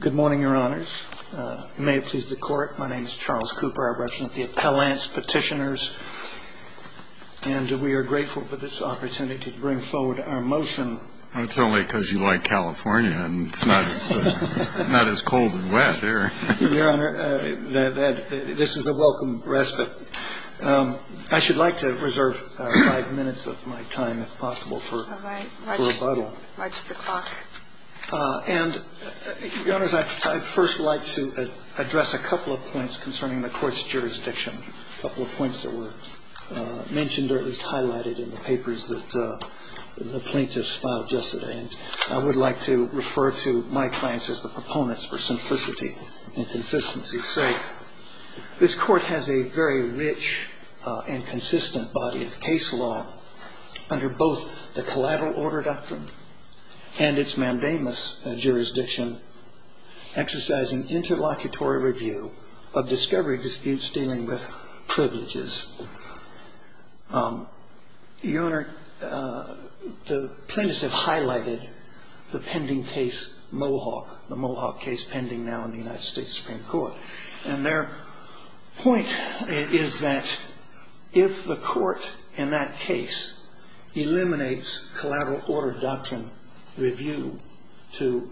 Good morning, your honors. May it please the court, my name is Charles Cooper. I represent the Appellants Petitioners. And we are grateful for this opportunity to bring forward our motion. That's only because you like California and it's not as cold and wet there. Your honor, this is a welcome respite. I should like to reserve five minutes of my time if possible for rebuttal. And your honors, I'd first like to address a couple of points concerning the court's jurisdiction. A couple of points that were mentioned or at least highlighted in the papers that the plaintiffs filed yesterday. And I would like to refer to my clients as the proponents for simplicity and consistency. As you say, this court has a very rich and consistent body of case law under both the collateral order doctrine and its mandamus jurisdiction. Exercising interlocutory review of discovery disputes dealing with privileges. Your honor, the plaintiffs have highlighted the pending case Mohawk. The Mohawk case pending now in the United States Supreme Court. And their point is that if the court in that case eliminates collateral order doctrine review to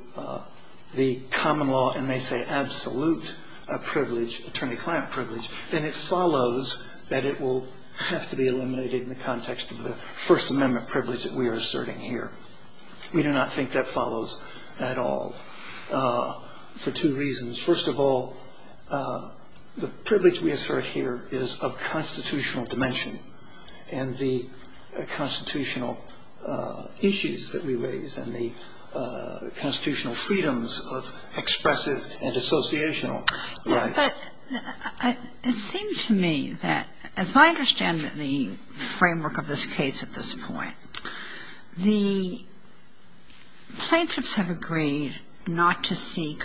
the common law and may say absolute privilege, attorney-client privilege, then it follows that it will have to be eliminated in the context of the First Amendment privilege that we are asserting here. We do not think that follows at all for two reasons. First of all, the privilege we assert here is of constitutional dimension. And the constitutional issues that we raise and the constitutional freedoms of expressive and associational rights. It seems to me that if I understand the framework of this case at this point, the plaintiffs have agreed not to seek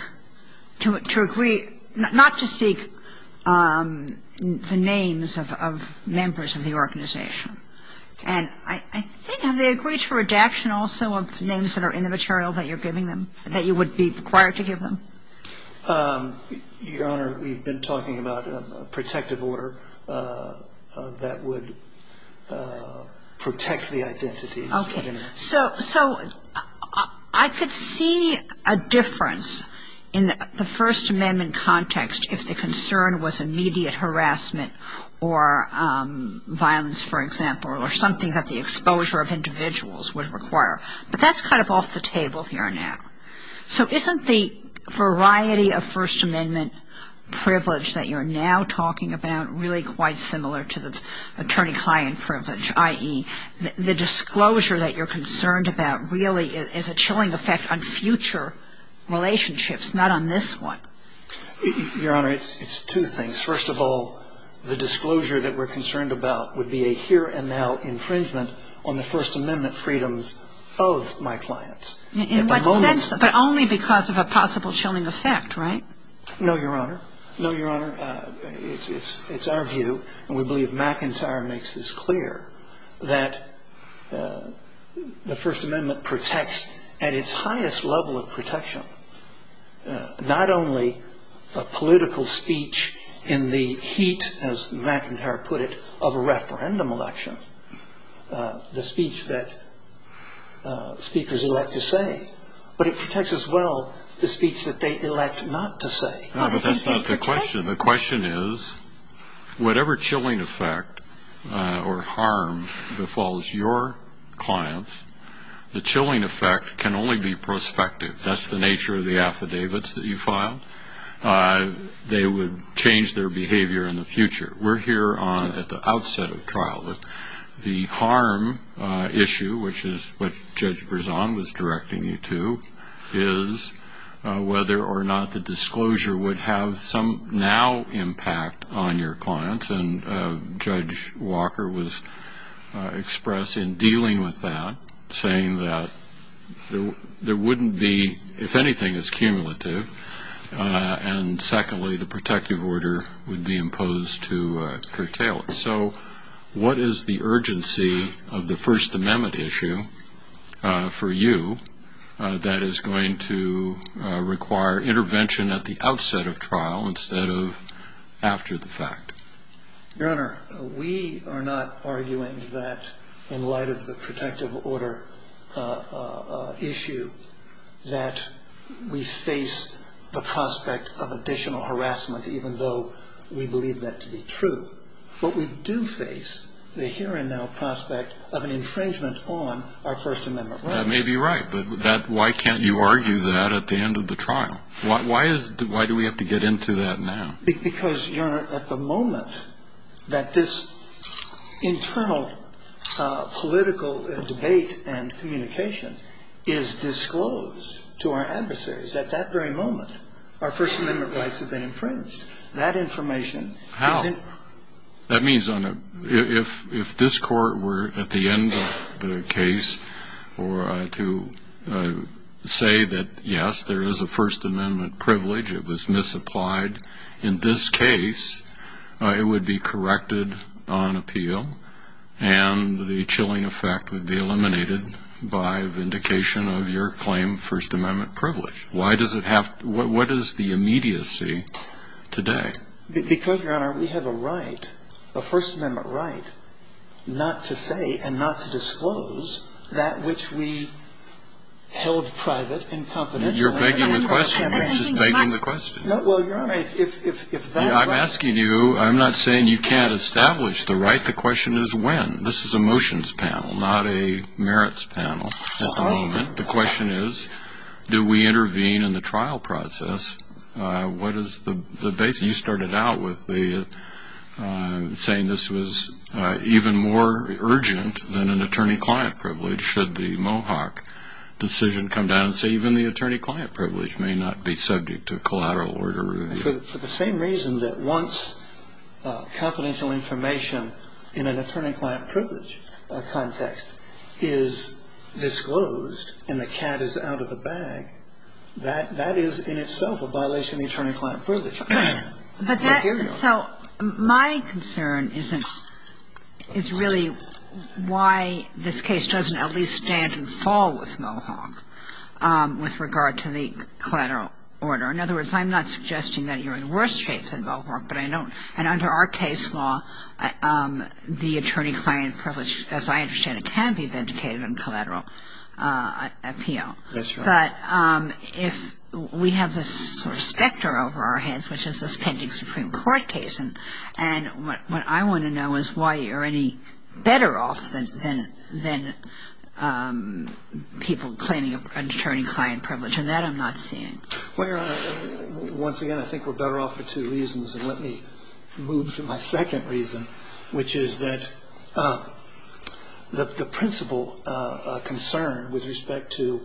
the names of members of the organization. And I think, have they agreed to redaction also of names that are in the material that you're giving them? That you would be required to give them? Your honor, we've been talking about a protective order that would protect the identity. Okay. So, I could see a difference in the First Amendment context if the concern was immediate harassment or violence, for example, or something that the exposure of individuals would require. But that's kind of off the table here now. So, isn't the variety of First Amendment privilege that you're now talking about really quite similar to the attorney-client privilege? I.e., the disclosure that you're concerned about really is a chilling effect on future relationships, not on this one. Your honor, it's two things. First of all, the disclosure that we're concerned about would be a here and now infringement on the First Amendment freedoms of my clients. But only because of a possible chilling effect, right? No, your honor. No, your honor. It's our view, and we believe McIntyre makes this clear, that the First Amendment protects at its highest level of protection, not only a political speech in the heat, as McIntyre put it, of a referendum election. The speech that speakers elect to say. But it protects as well the speech that they elect not to say. No, but that's not the question. The question is, whatever chilling effect or harm befalls your clients, the chilling effect can only be prospective. That's the nature of the affidavits that you file. They would change their behavior in the future. We're here at the outset of trial. The harm issue, which is what Judge Berzon was directing you to, is whether or not the disclosure would have some now impact on your clients. And Judge Walker was expressed in dealing with that, saying that there wouldn't be, if anything, it's cumulative. And secondly, the protective order would be imposed to curtail it. So what is the urgency of the First Amendment issue for you that is going to require intervention at the outset of trial instead of after the fact? Your Honor, we are not arguing that, in light of the protective order issue, that we face the prospect of additional harassment, even though we believe that to be true. But we do face the here and now prospect of an infringement on our First Amendment rights. That may be right, but why can't you argue that at the end of the trial? Why do we have to get into that now? Because, Your Honor, at the moment that this internal political debate and communication is disclosed to our adversaries, at that very moment, our First Amendment rights have been infringed. How? That means, if this Court were at the end of the case to say that, yes, there is a First Amendment privilege, it was misapplied, in this case, it would be corrected on appeal, and the chilling effect would be eliminated by vindication of your claim of First Amendment privilege. Why does it have to? What is the immediacy today? Because, Your Honor, we have a right, a First Amendment right, not to say and not to disclose that which we held private and confidential. You're begging the question. You're just begging the question. No, well, Your Honor, if that's what... I'm asking you, I'm not saying you can't establish the right. The question is when. This is a motions panel, not a merits panel at the moment. The question is, do we intervene in the trial process? What is the basis? You started out with saying this was even more urgent than an attorney-client privilege should the Mohawk decision come down, so even the attorney-client privilege may not be subject to collateral order review. For the same reason that once confidential information in an attorney-client privilege context is disclosed and the cat is out of the bag, that is in itself a violation of attorney-client privilege. So my concern is really why this case doesn't at least stand and fall with Mohawk with regard to the collateral order. In other words, I'm not suggesting that you're in worse shape than Mohawk, but I know, and under our case law, the attorney-client privilege, as I understand it, can be vindicated on collateral appeal. That's right. But if we have this sort of specter over our heads, which is this pending Supreme Court case, and what I want to know is why you're any better off than people claiming attorney-client privilege, and that I'm not seeing. Well, Your Honor, once again, I think we're better off for two reasons, and let me move to my second reason, which is that the principal concern with respect to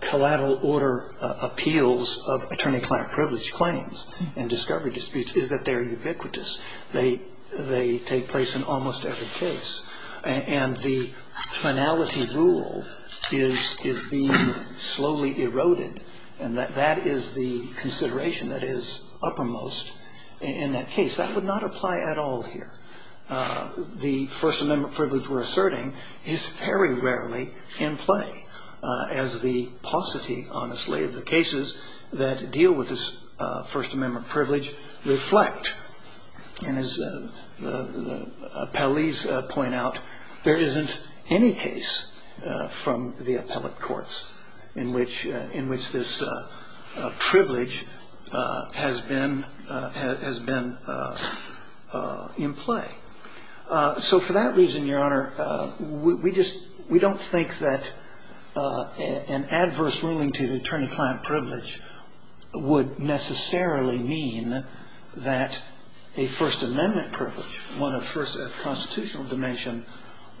collateral order appeals of attorney-client privilege claims and discovery disputes is that they're ubiquitous. They take place in almost every case, and the finality rule is being slowly eroded, and that is the consideration that is uppermost in that case. That would not apply at all here. The First Amendment privilege we're asserting is very rarely in play, as the paucity, honestly, of the cases that deal with this First Amendment privilege reflect. As the appellees point out, there isn't any case from the appellate courts in which this privilege has been in play. So for that reason, Your Honor, we don't think that an adverse ruling to the attorney-client privilege would necessarily mean that a First Amendment privilege, one of constitutional dimension,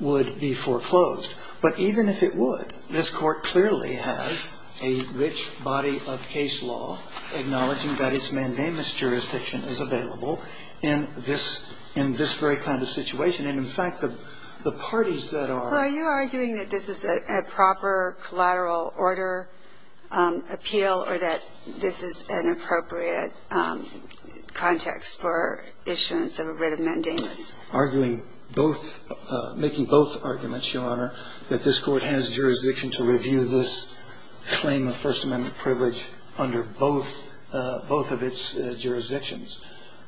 would be foreclosed. But even if it would, this Court clearly has a rich body of case law, acknowledging that its mandamus jurisdiction is available in this very kind of situation. And, in fact, the parties that are— So are you arguing that this is a proper collateral order appeal, or that this is an appropriate context for issuance of a writ of mandamus? Arguing both—making both arguments, Your Honor, that this Court has jurisdiction to review this claim of First Amendment privilege under both of its jurisdictions.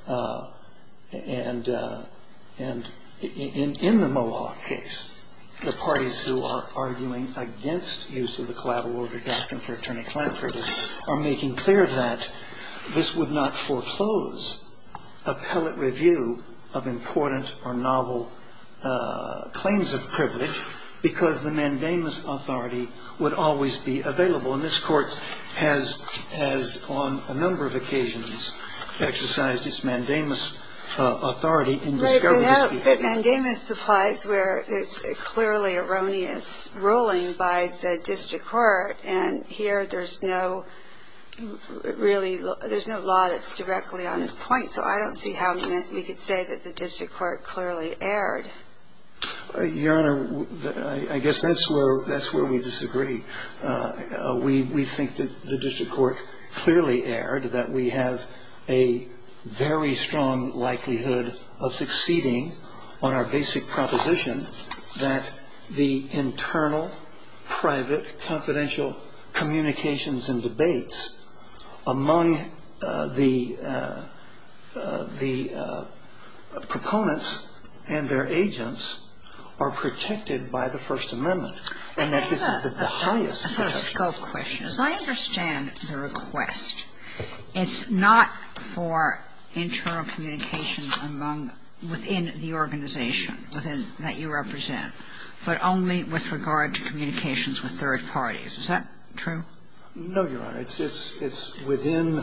And, in the Moloch case, the parties who are arguing against use of the collateral order doctrine for attorney-client privilege are making clear that this would not foreclose appellate review of important or novel claims of privilege because the mandamus authority would always be available. And this Court has, on a number of occasions, exercised its mandamus authority in this case. But mandamus applies where it's clearly erroneous ruling by the district court. And here there's no really—there's no law that's directly on its point. So I don't see how we could say that the district court clearly erred. Your Honor, I guess that's where we disagree. We think that the district court clearly erred, that we have a very strong likelihood of succeeding on our basic proposition that the internal, private, confidential communications and debates among the proponents and their agents are protected by the First Amendment, and that this is the highest— I've got a scope question. As I understand the request, it's not for internal communications among—within the organization, that you represent, but only with regard to communications with third parties. Is that true? No, Your Honor. It's within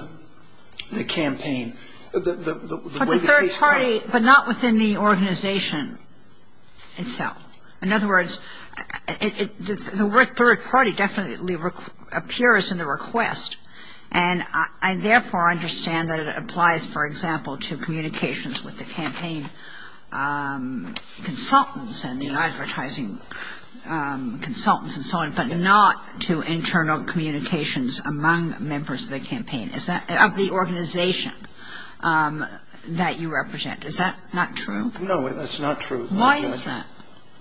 the campaign. But the third party—but not within the organization itself. In other words, the word third party definitely appears in the request. And I therefore understand that it applies, for example, to communications with the campaign consultants and the advertising consultants and so on, but not to internal communications among members of the campaign. Is that—of the organization that you represent. Is that not true? No, that's not true. Why is that?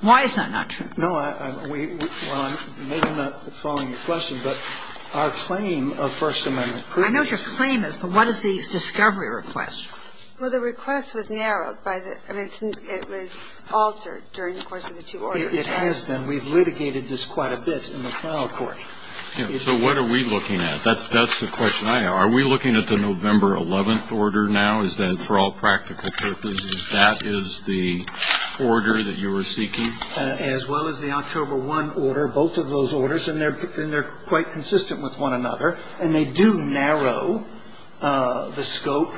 Why is that not true? No, I—well, maybe I'm not following your question, but our claim of First Amendment— I know what your claim is, but what is the discovery request? Well, the request was narrowed by the—I mean, it was altered during the course of the two orders. It has been. We've litigated this quite a bit in the final court. So what are we looking at? That's the question I have. Are we looking at the November 11th order now? Is that, for all practical purposes, that is the order that you are seeking? As well as the October 1 order, both of those orders, and they're quite consistent with one another, and they do narrow the scope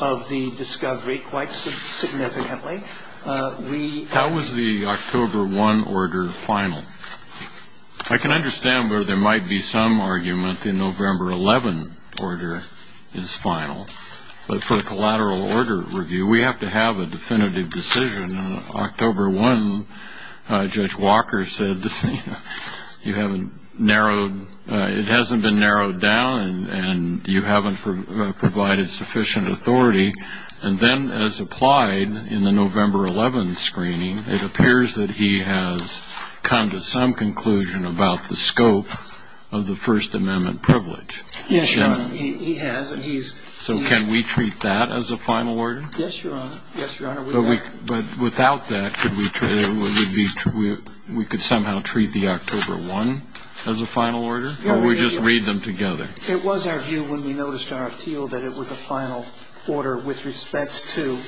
of the discovery quite significantly. We— How is the October 1 order final? I can understand where there might be some argument the November 11 order is final, but for the collateral order review, we have to have a definitive decision. On October 1, Judge Walker said you have narrowed—it hasn't been narrowed down, and you haven't provided sufficient authority. And then, as applied in the November 11 screening, it appears that he has come to some conclusion about the scope of the First Amendment privilege. Yes, Your Honor. He has, and he's— So can we treat that as a final order? Yes, Your Honor. Yes, Your Honor. But without that, we could somehow treat the October 1 as a final order? Or we just read them together? It was our view when we noticed our appeal that it was a final order with respect to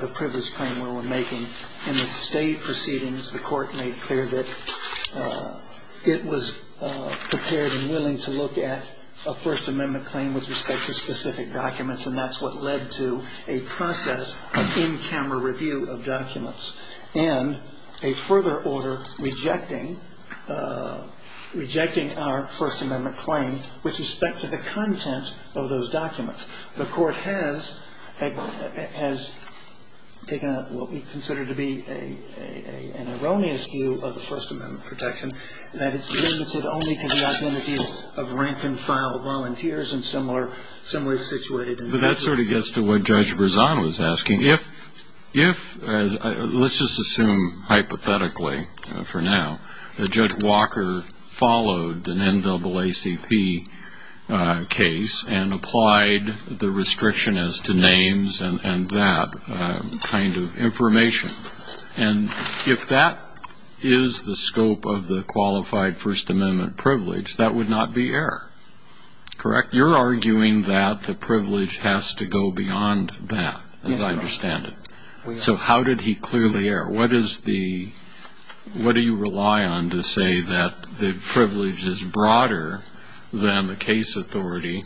the privilege claim we were making. In the state proceedings, the court made clear that it was prepared and willing to look at a First Amendment claim with respect to specific documents, and that's what led to a process of in-camera review of documents and a further order rejecting our First Amendment claim with respect to the content of those documents. The court has taken out what we consider to be an erroneous view of the First Amendment protection, that it's limited only to the identities of rank-and-file volunteers and similar situations. That sort of gets to what Judge Berzano was asking. If—let's just assume, hypothetically, for now, that Judge Walker followed an NAACP case and applied the restriction as to names and that kind of information, and if that is the scope of the qualified First Amendment privilege, that would not be error, correct? You're arguing that the privilege has to go beyond that, as I understand it. So how did he clearly err? What is the—what do you rely on to say that the privilege is broader than the case authority,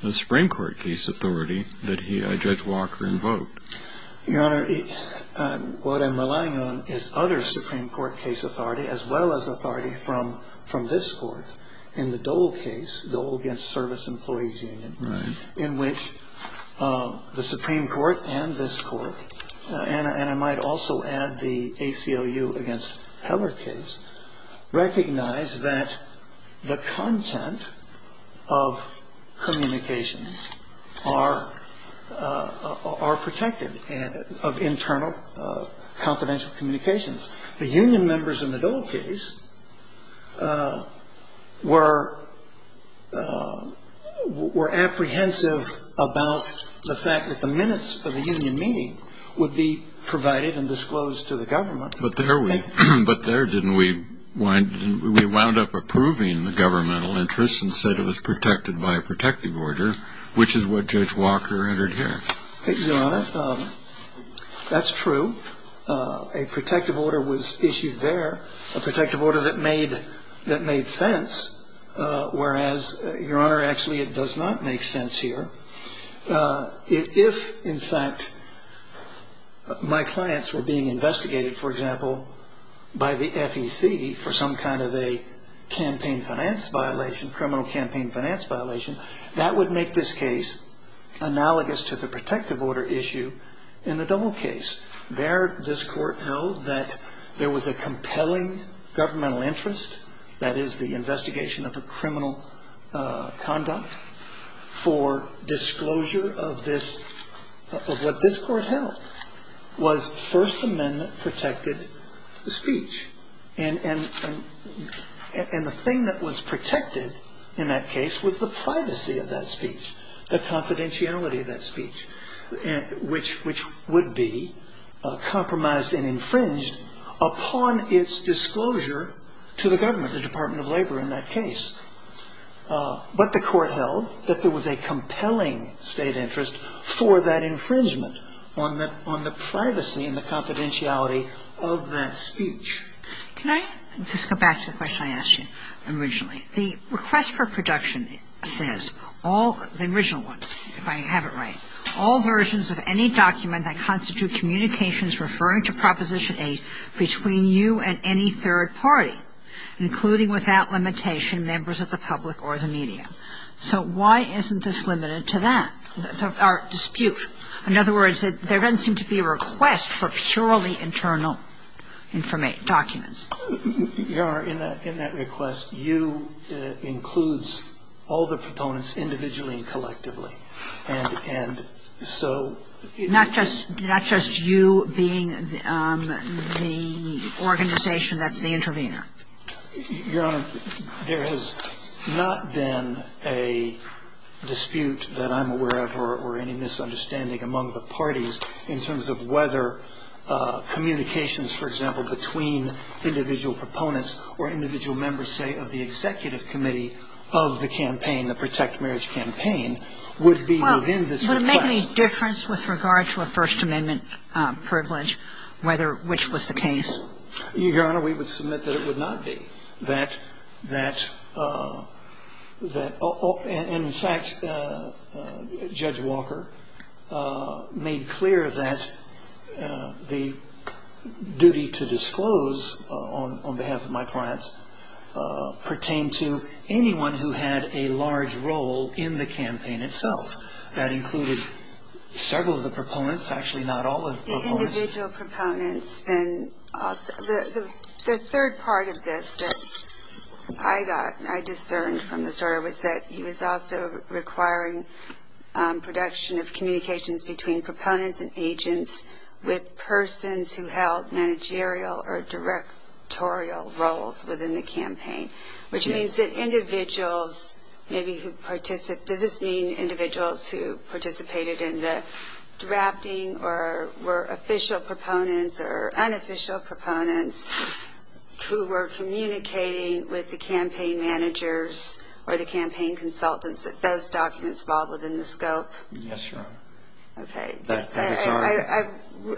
the Supreme Court case authority that Judge Walker invoked? Your Honor, what I'm relying on is other Supreme Court case authority, as well as authority from this Court. In the Dole case, the Dole against Service Employees Union, in which the Supreme Court and this Court— and the ACLU against Heller case—recognized that the content of communications are protected, of internal confidential communications. The Union members in the Dole case were apprehensive about the fact that the minutes of the Union meeting would be provided and disclosed to the government. But there we—but there didn't we wind—we wound up approving the governmental interest and said it was protected by a protective order, which is what Judge Walker entered here. Your Honor, that's true. A protective order was issued there, a protective order that made sense, whereas, Your Honor, actually it does not make sense here. If, in fact, my clients were being investigated, for example, by the FEC for some kind of a campaign finance violation, criminal campaign finance violation, that would make this case analogous to the protective order issue in the Dole case. There, this Court knows that there was a compelling governmental interest, that is, the investigation of the criminal conduct for disclosure of this—of what this Court held was First Amendment-protected speech. And the thing that was protected in that case was the privacy of that speech, the confidentiality of that speech, which would be compromised and infringed upon its disclosure to the government, the Department of Labor in that case. But the Court held that there was a compelling state interest for that infringement on the privacy and the confidentiality of that speech. Can I just go back to the question I asked you originally? The request for production says all—the original one, if I have it right— all versions of any document that constitute communications referring to Proposition 8 between you and any third party, including, without limitation, members of the public or the media. So why isn't this limited to that, our dispute? In other words, there doesn't seem to be a request for purely internal documents. Your Honor, in that request, you includes all the proponents individually and collectively. And so— Not just you being the organization that's the intervener. Your Honor, there has not been a dispute that I'm aware of or any misunderstanding among the parties in terms of whether communications, for example, between individual proponents or individual members, say, of the executive committee of the campaign, the Protect Marriage campaign, would be within this request. Well, would it make any difference with regard to a First Amendment privilege, whether—which was the case? Your Honor, we would submit that it would not be. That—and, in fact, Judge Walker made clear that the duty to disclose on behalf of my clients pertained to anyone who had a large role in the campaign itself. That included several of the proponents, actually not all of the proponents. The individual proponents and also—the third part of this that I got, I discerned from the story, was that he was also requiring production of communications between proponents and agents with persons who held managerial or directorial roles within the campaign, which means that individuals maybe who participated— does this mean individuals who participated in the drafting or were official proponents or unofficial proponents who were communicating with the campaign managers or the campaign consultants that those documents fall within the scope? Yes, Your Honor. Okay.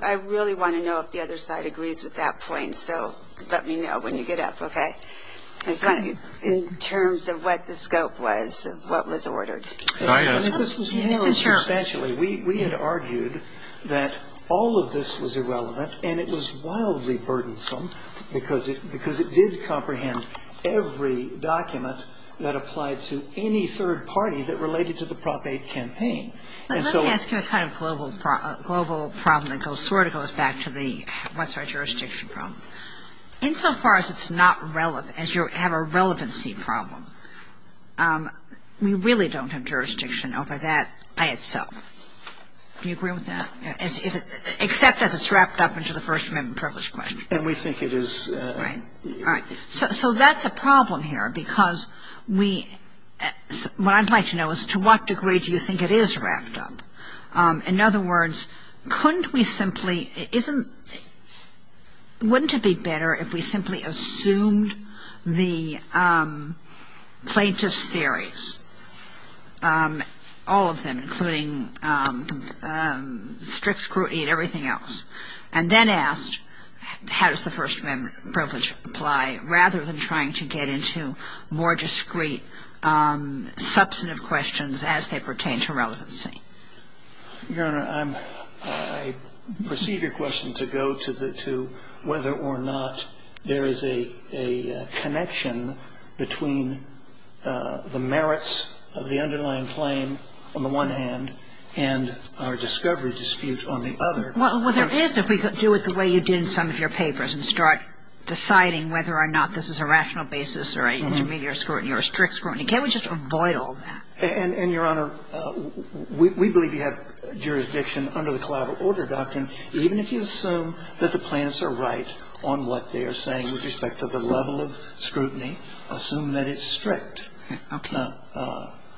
I really want to know if the other side agrees with that point, so let me know when you get up, okay? In terms of what the scope was, what was ordered. This was handled substantially. We had argued that all of this was irrelevant, and it was wildly burdensome because it did comprehend every document that applied to any third party that related to the Prop 8 campaign. Let me ask you a kind of global problem that sort of goes back to the what's our jurisdiction problem. Insofar as it's not relevant, as you have a relevancy problem, we really don't have jurisdiction over that by itself. Do you agree with that? Except that it's wrapped up into the First Amendment privilege question. And we think it is— So that's a problem here because we—what I'd like to know is to what degree do you think it is wrapped up? In other words, couldn't we simply—isn't—wouldn't it be better if we simply assumed the plaintiff's theories, all of them, including strict scrutiny and everything else, and then asked, how does the First Amendment privilege apply, rather than trying to get into more discrete, substantive questions as they pertain to relevancy? Your Honor, I perceive your question to go to whether or not there is a connection between the merits of the underlying claim, on the one hand, and our discovery dispute on the other. Well, there is if we could do it the way you did in some of your papers and start deciding whether or not this is a rational basis or an intermediate scrutiny or a strict scrutiny. Can't we just avoid all that? And, Your Honor, we believe you have jurisdiction under the collateral order doctrine, even if you assume that the plaintiffs are right on what they are saying with respect to the level of scrutiny. Assume that it's strict. Okay.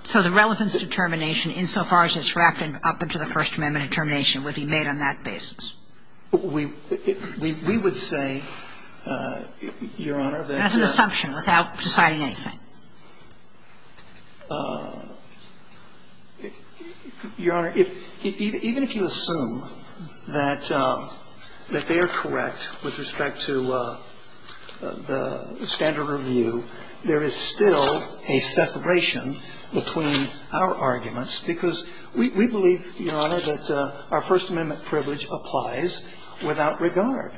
So the relevance determination insofar as it's wrapped up into the First Amendment determination would be made on that basis. We would say, Your Honor, that— That's an assumption without deciding anything. Your Honor, even if you assume that they are correct with respect to the standard of review, there is still a separation between our arguments because we believe, Your Honor, that our First Amendment privilege applies without regard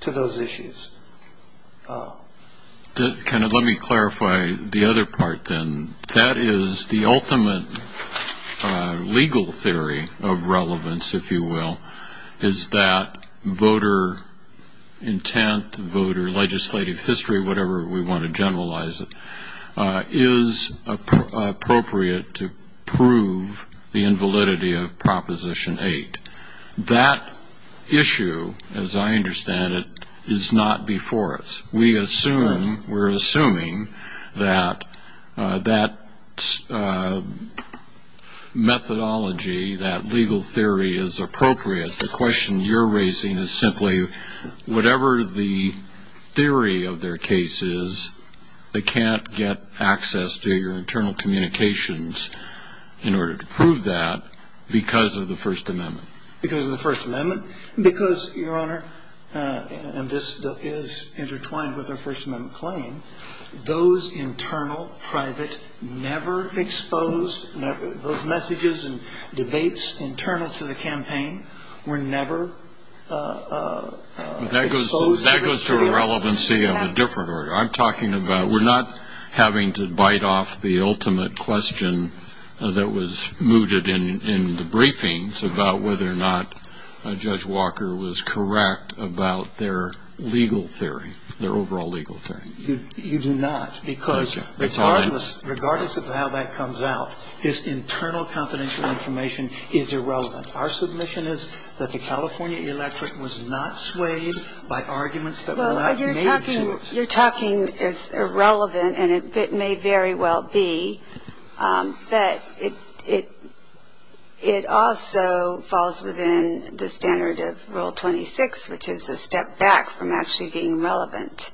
to those issues. Let me clarify the other part then. That is the ultimate legal theory of relevance, if you will, is that voter intent, voter legislative history, whatever we want to generalize it, is appropriate to prove the invalidity of Proposition 8. That issue, as I understand it, is not before us. We're assuming that that methodology, that legal theory, is appropriate. The question you're raising is simply whatever the theory of their case is, they can't get access to your internal communications in order to prove that because of the First Amendment. Because of the First Amendment? Because, Your Honor, and this is intertwined with our First Amendment claim, those internal, private, never exposed— those messages and debates internal to the campaign were never exposed. That goes to a relevancy of a different order. I'm talking about we're not having to bite off the ultimate question that was mooted in the briefings about whether or not Judge Walker was correct about their legal theory, their overall legal theory. You do not, because regardless of how that comes out, this internal confidential information is irrelevant. Our submission is that the California electorate was not swayed by arguments that were not made to us. Your talking is irrelevant, and it may very well be, but it also falls within the standard of Rule 26, which is a step back from actually being relevant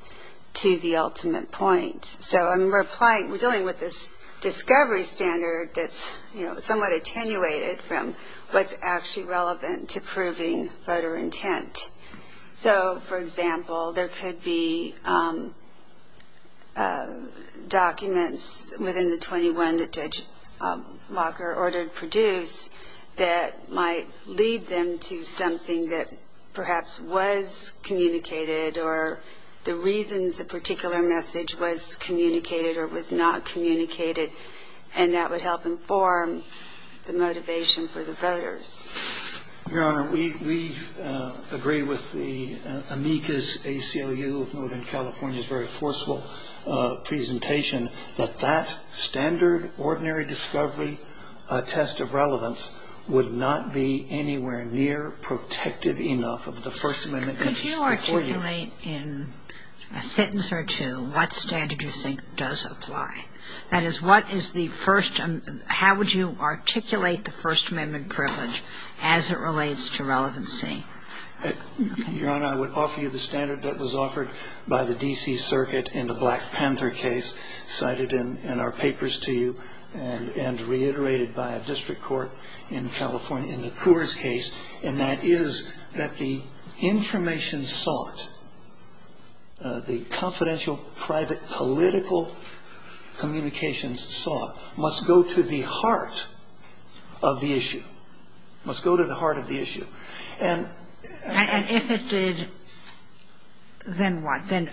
to the ultimate point. So I'm dealing with this discovery standard that's somewhat attenuated from what's actually relevant to proving voter intent. So, for example, there could be documents within the 21 that Judge Walker ordered produced that might lead them to something that perhaps was communicated or the reasons the particular message was communicated or was not communicated, and that would help inform the motivation for the voters. Your Honor, we agree with the amicus ACLU of Northern California's very forceful presentation that that standard ordinary discovery test of relevance would not be anywhere near protective enough of the First Amendment. If you articulate in a sentence or two what standard you think does apply, that is, how would you articulate the First Amendment privilege as it relates to relevancy? Your Honor, I would offer you the standard that was offered by the D.C. Circuit in the Black Panther case cited in our papers to you and reiterated by a district court in California in the Coors case, and that is that the information sought, the confidential private political communications sought, must go to the heart of the issue, must go to the heart of the issue. And if it did, then what? Then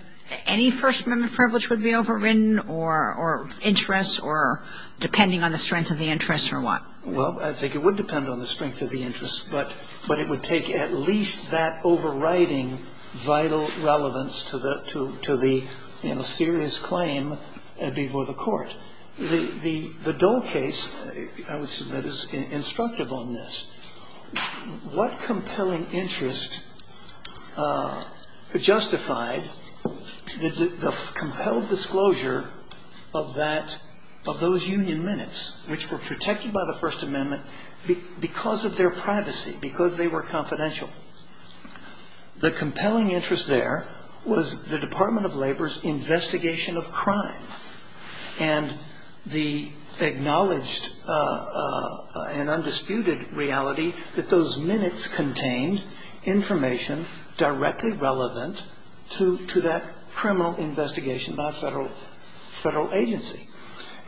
any First Amendment privilege would be overridden or interest or depending on the strength of the interest or what? Well, I think it would depend on the strength of the interest, but it would take at least that overriding vital relevance to the serious claim before the court. The Dole case, I would submit, is instructive on this. What compelling interest justified the compelled disclosure of those union minutes which were protected by the First Amendment because of their privacy, because they were confidential? The compelling interest there was the Department of Labor's investigation of crime and the acknowledged and undisputed reality that those minutes contained information directly relevant to that criminal investigation by a federal agency.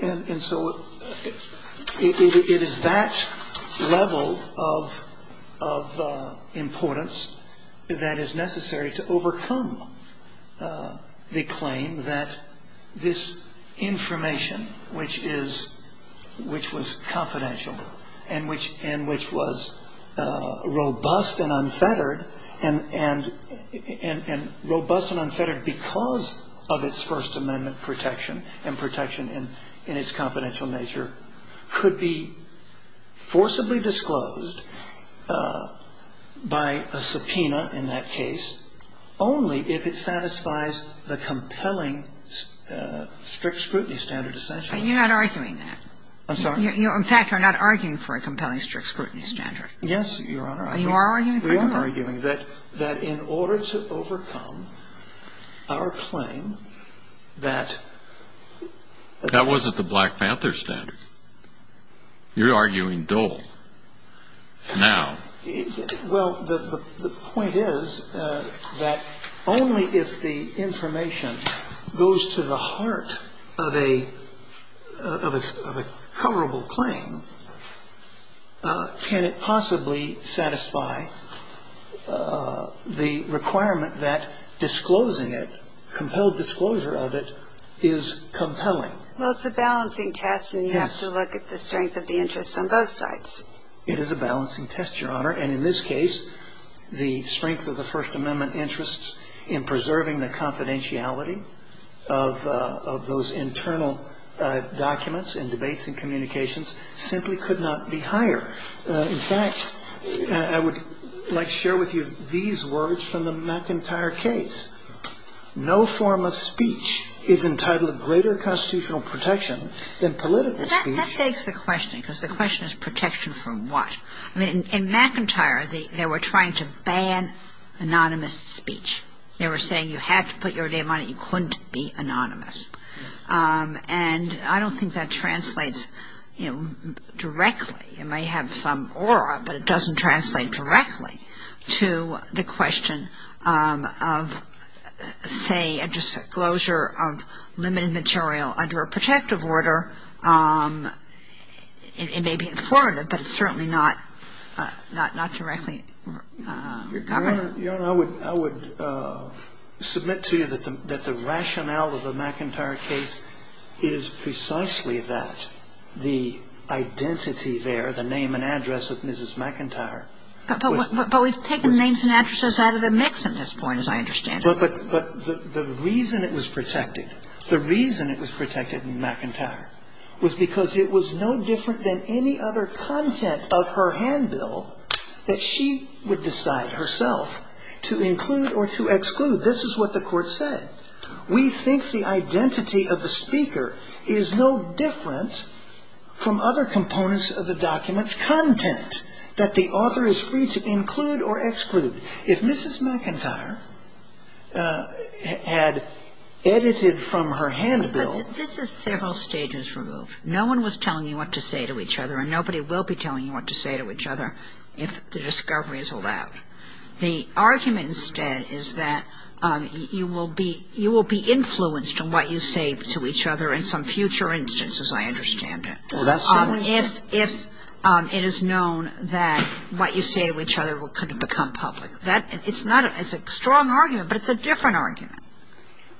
And so it is that level of importance that is necessary to overcome the claim that this information, which was confidential and which was robust and unfettered, and robust and unfettered because of its First Amendment protection and protection in its confidential nature, could be forcibly disclosed by a subpoena in that case only if it satisfies the compelling strict scrutiny standard essentially. You're not arguing that. I'm sorry? In fact, you're not arguing for a compelling strict scrutiny standard. Yes, Your Honor. You are arguing for it. We are arguing that in order to overcome our claim that... That wasn't the Black Panther standard. You're arguing Dole now. Well, the point is that only if the information goes to the heart of a coverable claim can it possibly satisfy the requirement that disclosing it, compelled disclosure of it, is compelling. Well, it's a balancing test and you have to look at the strength of the interest on both sides. It is a balancing test, Your Honor, and in this case the strength of the First Amendment interest in preserving the confidentiality of those internal documents and debates and communications simply could not be higher. In fact, I would like to share with you these words from the McIntyre case. No form of speech is entitled greater constitutional protection than political speech. That begs the question because the question is protection from what? In McIntyre, they were trying to ban anonymous speech. They were saying you had to put your name on it. You couldn't be anonymous. And I don't think that translates directly. It may have some aura, but it doesn't translate directly to the question of, say, a disclosure of limited material under a protective order. It may be informative, but it's certainly not directly covered. Your Honor, I would submit to you that the rationale of the McIntyre case is precisely that. The identity there, the name and address of Mrs. McIntyre. But we've taken names and addresses out of the mix at this point, as I understand it. But the reason it was protected, the reason it was protected in McIntyre, was because it was no different than any other content of her handbill that she would decide herself to include or to exclude. This is what the court said. We think the identity of the speaker is no different from other components of the document's content that the author is free to include or exclude. If Mrs. McIntyre had edited from her handbill... This is several stages removed. No one was telling you what to say to each other, and nobody will be telling you what to say to each other if the discovery is allowed. The argument, instead, is that you will be influenced on what you say to each other in some future instance, as I understand it. If it is known that what you say to each other could become public. It's a strong argument, but it's a different argument.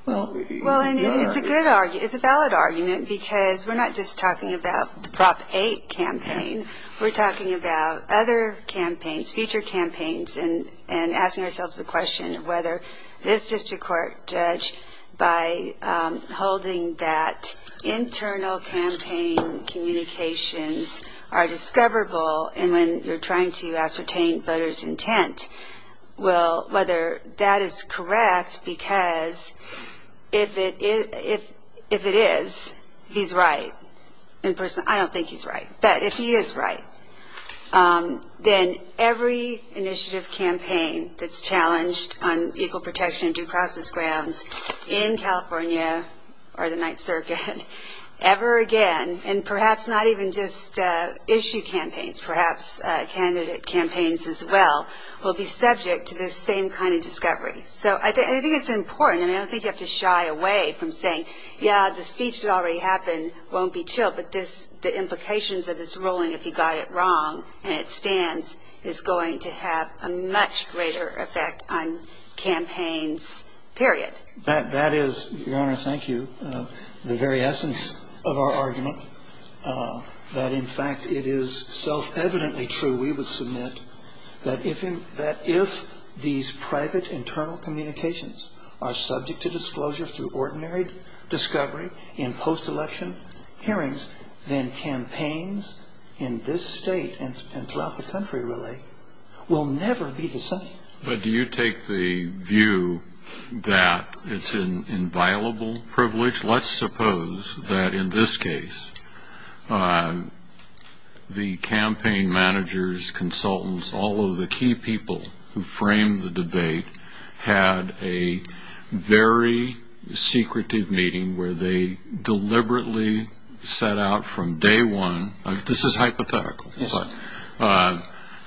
Well, it's a good argument. It's a valid argument, because we're not just talking about the Prop 8 campaign. We're talking about other campaigns, future campaigns, and asking ourselves the question of whether this district court judge, by holding that internal campaign communications are discoverable and when you're trying to ascertain voters' intent, whether that is correct, because if it is, he's right. I don't think he's right, but if he is right, then every initiative campaign that's challenged on equal protection and due process grounds in California or the Ninth Circuit ever again, and perhaps not even just issue campaigns, perhaps candidate campaigns as well, will be subject to the same kind of discovery. I think it's important, and I don't think you have to shy away from saying, yeah, the speech that already happened won't be tilled, but the implications that it's ruling if he got it wrong and it stands is going to have a much greater effect on campaigns, period. That is, Your Honor, thank you, the very essence of our argument, that in fact it is self-evidently true, we would submit, that if these private internal communications are subject to disclosure through ordinary discovery in post-election hearings, then campaigns in this state and throughout the country, really, will never be the same. Do you take the view that it's an inviolable privilege? Let's suppose that in this case the campaign managers, consultants, all of the key people who framed the debate had a very secretive meeting where they deliberately set out from day one, this is hypothetical,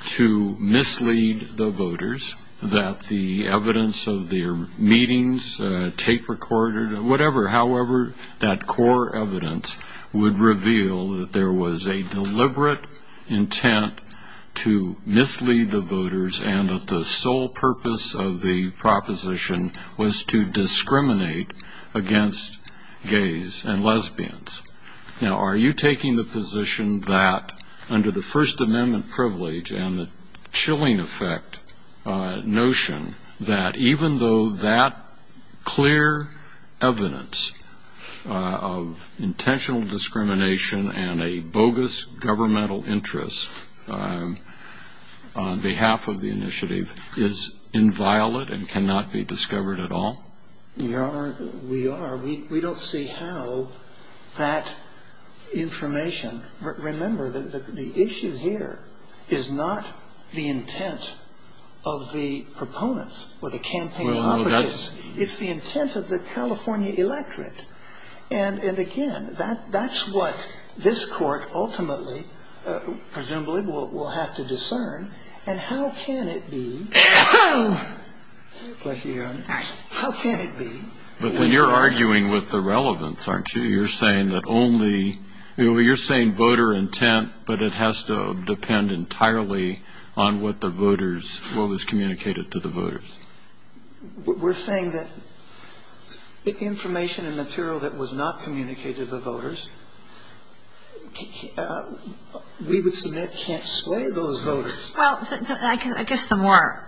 to mislead the voters that the evidence of their meetings, tape recorded, whatever, however that core evidence would reveal that there was a deliberate intent to mislead the voters and that the sole purpose of the proposition was to discriminate against gays and lesbians. Now, are you taking the position that under the First Amendment privilege and the chilling effect notion that even though that clear evidence of intentional discrimination and a bogus governmental interest on behalf of the initiative is inviolate and cannot be discovered at all? We are. We don't see how that information... Remember, the issue here is not the intent of the proponents or the campaign opposites. It's the intent of the California electorate. And again, that's what this court ultimately, presumably, will have to discern. And how can it be... But you're arguing with the relevance, aren't you? You're saying voter intent, but it has to depend entirely on what the voters... what was communicated to the voters. We're saying that information and material that was not communicated to the voters, we would say that can't sway those voters. Well, I guess the more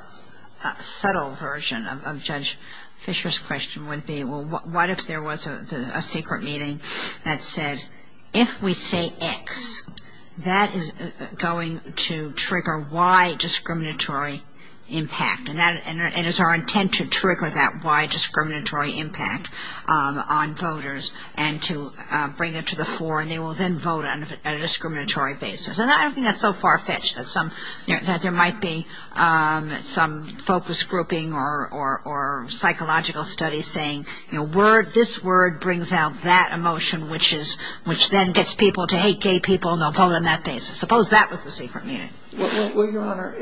subtle version of Judge Fisher's question would be, well, what if there was a secret meeting that said, if we say X, that is going to trigger Y discriminatory impact. And it is our intent to trigger that Y discriminatory impact on voters and to bring it to the fore and they will then vote on a discriminatory basis. And I think that's so far-fetched that there might be some focus grouping or psychological study saying, you know, this word brings out that emotion which then gets people to hate gay people and they'll vote on that basis. Suppose that was the secret meeting. Well, Your Honor,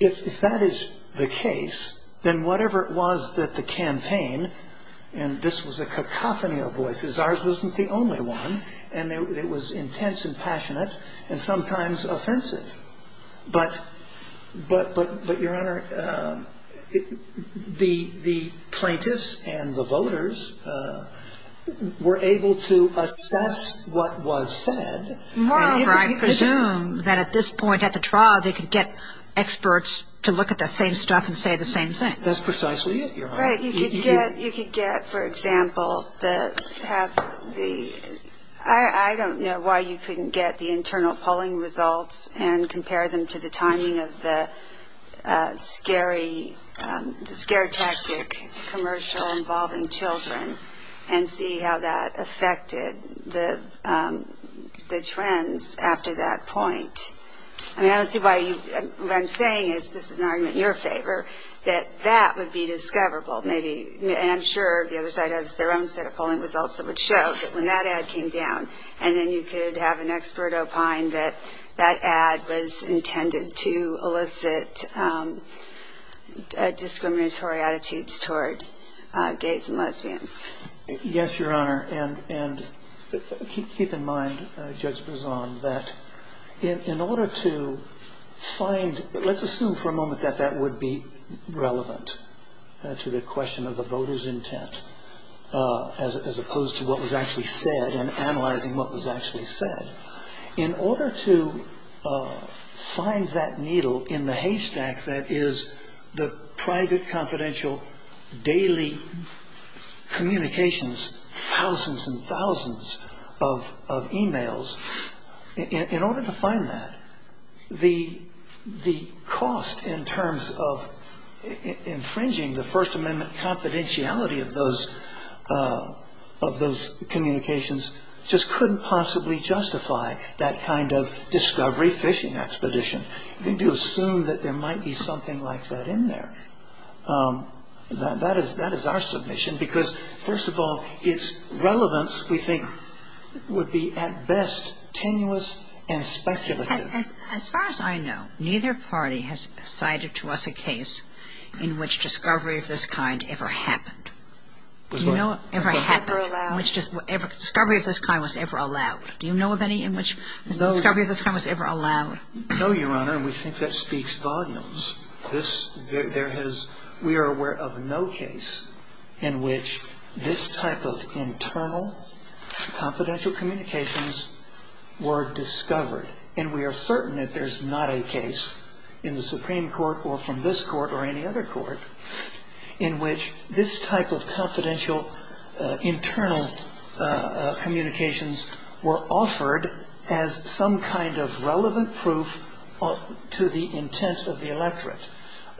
if that is the case, then whatever it was that the campaign, and this was a cacophony of voices, ours wasn't the only one, and it was intense and passionate and sometimes offensive. But, Your Honor, the plaintiffs and the voters were able to assess what was said. I presume that at this point at the trial they could get experts to look at the same stuff and say the same thing. That's precisely it, Your Honor. Right, you could get, for example, I don't know why you couldn't get the internal polling results and compare them to the timing of the scary, scare tactic commercial involving children and see how that affected the trends after that point. I mean, I don't see why you, what I'm saying is, this is an argument in your favor, that that would be discoverable. And I'm sure there was their own set of polling results that would show when that ad came down, and then you could have an expert opine that that ad was intended to elicit discriminatory attitudes toward gays and lesbians. Yes, Your Honor, and keep in mind, Judge Brizant, that in order to find, let's assume for a moment that that would be relevant to the question of the voters' intent as opposed to what was actually said and analyzing what was actually said. In order to find that needle in the haystack that is the private, confidential, daily communications, thousands and thousands of emails, in order to find that, the cost in terms of infringing the First Amendment confidentiality of those communications just couldn't possibly justify that kind of discovery fishing expedition. We do assume that there might be something like that in there. That is our submission because, first of all, its relevance, we think, would be at best tenuous and speculative. As far as I know, neither party has cited to us a case in which discovery of this kind ever happened. Do you know of any in which discovery of this kind was ever allowed? Do you know of any in which discovery of this kind was ever allowed? No, Your Honor, and we think that speaks volumes. We are aware of no case in which this type of internal confidential communications were discovered, and we are certain that there is not a case in the Supreme Court or from this court or any other court in which this type of confidential internal communications were offered as some kind of relevant proof to the intents of the electorate.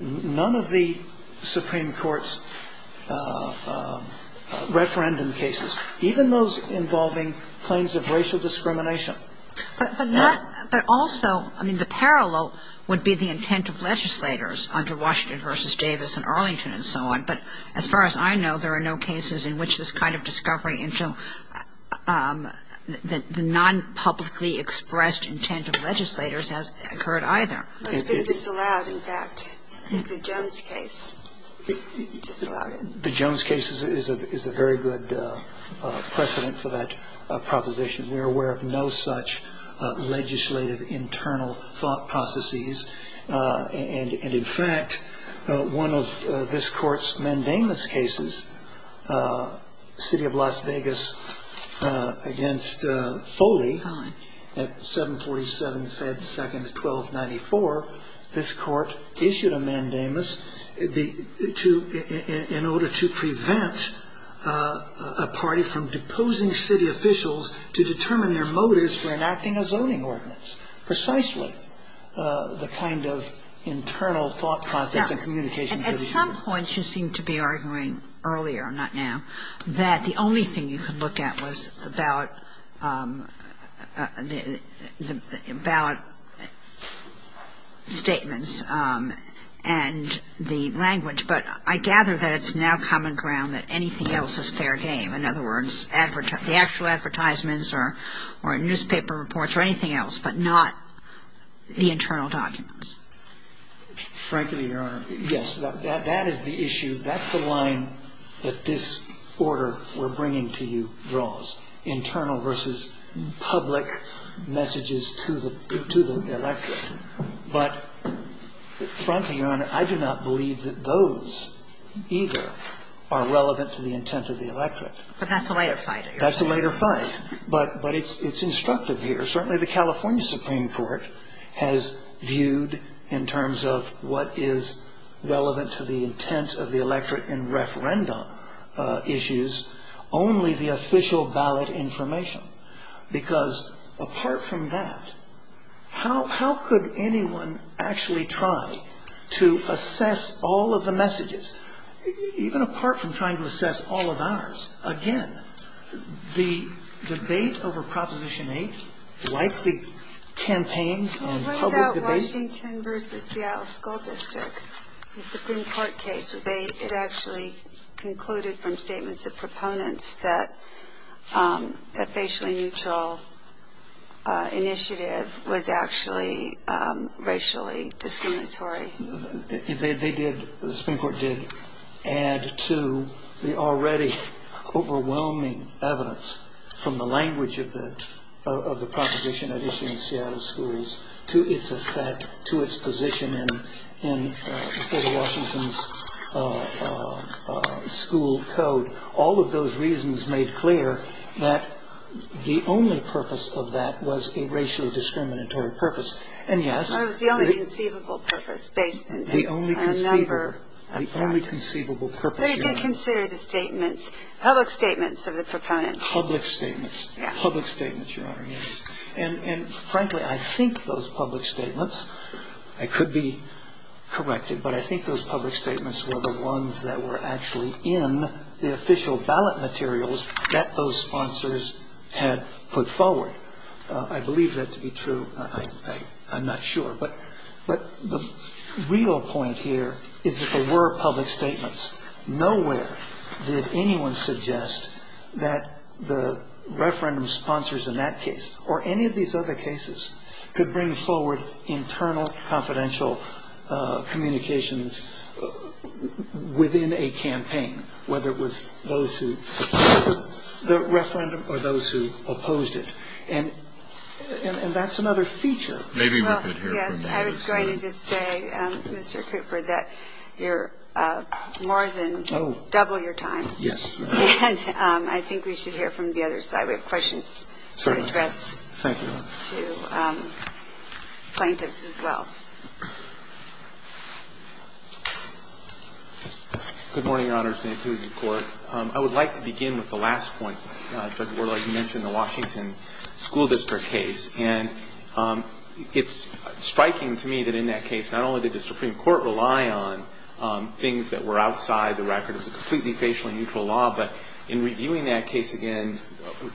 None of the Supreme Court's referendum cases, even those involving claims of racial discrimination. But also, the parallel would be the intent of legislators under Washington v. Davis and Arlington and so on, but as far as I know, there are no cases in which this kind of discovery The non-publicly expressed intent of legislators has occurred either. It's allowed, in fact, in the Jones case. The Jones case is a very good precedent for that proposition. We are aware of no such legislative internal thought processes, and in fact, one of this court's mandamus cases, City of Las Vegas v. Foley at 747-1294, this court issued a mandamus in order to prevent a party from deposing city officials to determine their motives for enacting a zoning ordinance. And that's precisely the kind of internal thought process and communication. At some point, she seemed to be arguing earlier, not now, that the only thing you could look at was about statements and the language, but I gather that it's now common ground that anything else is fair game. In other words, the actual advertisements or newspaper reports or anything else, but not the internal documents. Frankly, Your Honor, yes. That is the issue. That's the line that this order we're bringing to you draws, internal versus public messages to the electorate. But frankly, Your Honor, I do not believe that those either are relevant to the intent of the electorate. But that's a later fight. That's a later fight. But it's instructive here. Certainly the California Supreme Court has viewed, in terms of what is relevant to the intent of the electorate in referendum issues, only the official ballot information. Because apart from that, how could anyone actually try to assess all of the messages? Even apart from trying to assess all of ours, again, the debate over Proposition 8, likely campaigned on public debate. What about Washington versus Seattle School District? The Supreme Court case, it actually concluded from statements of proponents that a facially neutral initiative was actually racially discriminatory. They did, the Supreme Court did, add to the already overwhelming evidence from the language of the proposition that is in Seattle Schools to its effect, to its position in Betty Washington's school code. All of those reasons made clear that the only purpose of that was a racially discriminatory purpose. And yes. It was the only conceivable purpose. The only conceivable purpose. They did consider the statements, public statements of the proponents. Public statements. Public statements, Your Honor. And frankly, I think those public statements, I could be corrected, but I think those public statements were the ones that were actually in the official ballot materials that those sponsors had put forward. I believe that to be true. I'm not sure. But the real point here is that there were public statements. Nowhere did anyone suggest that the referendum sponsors in that case, or any of these other cases, could bring forward internal confidential communications within a campaign, whether it was those who supported the referendum or those who opposed it. And that's another feature. Yes. I was going to just say, Mr. Cooper, that you're more than double your time. Yes. I think we should hear from the other side. We have questions to address to plaintiffs as well. Good morning, Your Honor. Thank you, Your Court. I would like to begin with the last point, Judge Worley. You mentioned the Washington School District case. And it's striking to me that in that case, not only did the Supreme Court rely on things that were outside the record as a completely facial neutral law, but in reviewing that case again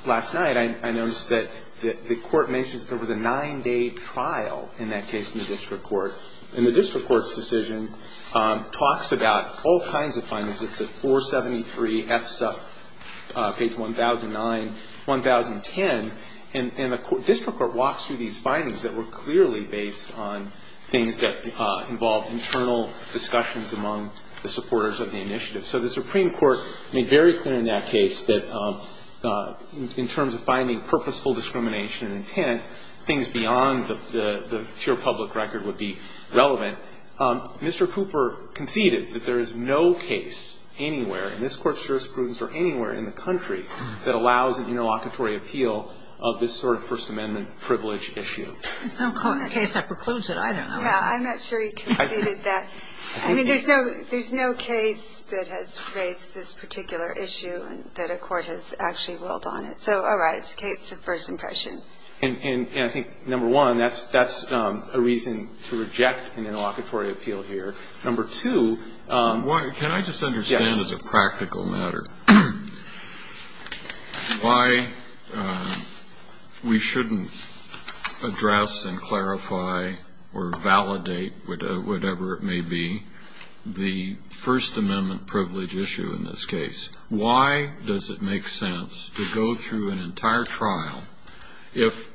last night, I noticed that the court mentions there was a nine-day trial in that case in the district court. And the district court's decision talks about all kinds of findings. It's at 473 F-Sub, page 1009, 1010. And the district court walks through these findings that were clearly based on things that involved internal discussions among the supporters of the initiative. So the Supreme Court made very clear in that case that in terms of finding purposeful discrimination in intent, things beyond the pure public record would be relevant. Mr. Cooper conceded that there is no case anywhere, and this court's jurisprudence is anywhere in the country, that allows an interlocutory appeal of this sort of First Amendment privilege issue. I don't call it a case of preclusion. I don't know. I'm not sure he conceded that. I mean, there's no case that has raised this particular issue that a court has actually ruled on it. So, all right, it's a case of first impression. And I think, number one, that's a reason to reject the interlocutory appeal here. Number two. Can I just understand as a practical matter why we shouldn't address and clarify or validate, whatever it may be, the First Amendment privilege issue in this case? Why does it make sense to go through an entire trial if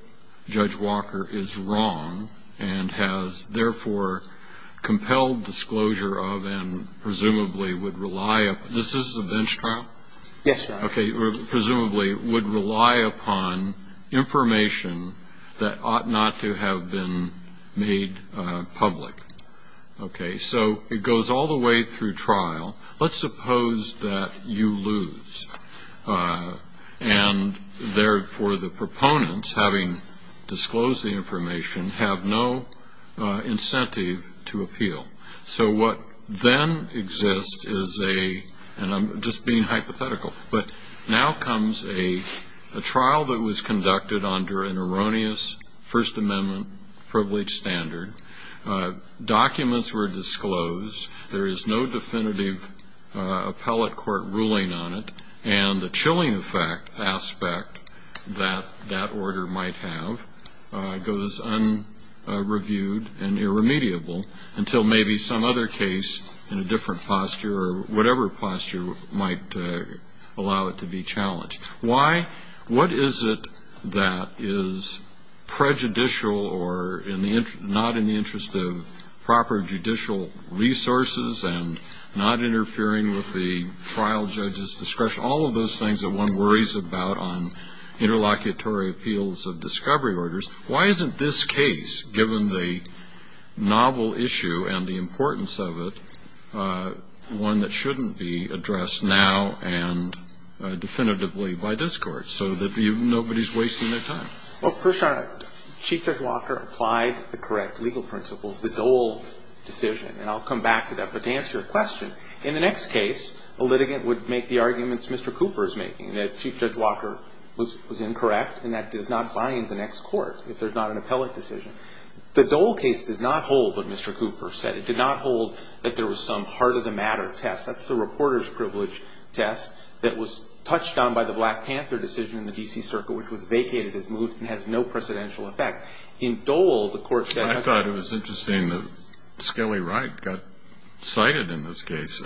Judge Walker is wrong and has, therefore, compelled disclosure of and presumably would rely upon information that ought not to have been made public? Okay, so it goes all the way through trial. Let's suppose that you lose and, therefore, the proponents, having disclosed the information, have no incentive to appeal. So what then exists is a, and I'm just being hypothetical, but now comes a trial that was conducted under an erroneous First Amendment privilege standard. Documents were disclosed. There is no definitive appellate court ruling on it. And the chilling aspect that that order might have goes unreviewed and irremediable until maybe some other case in a different posture or whatever posture might allow it to be challenged. What is it that is prejudicial or not in the interest of proper judicial resources and not interfering with the trial judge's discretion? All of those things that one worries about on interlocutory appeals of discovery orders. Why isn't this case, given the novel issue and the importance of it, one that shouldn't be addressed now and definitively by this court so that nobody is wasting their time? Well, first of all, Chief Judge Walker applied the correct legal principles, the Dole decision, and I'll come back to that. But to answer your question, in the next case, a litigant would make the arguments Mr. Cooper is making, that Chief Judge Walker was incorrect and that does not bind the next court if there's not an appellate decision. The Dole case does not hold what Mr. Cooper said. It did not hold that there was some heart-of-the-matter test. That's the reporter's privilege test that was touched on by the Black Panther decision in the D.C. Circuit, which was vacated as moot and had no precedential effect. In Dole, the court said... I thought it was interesting that Skelly Wright got cited in this case.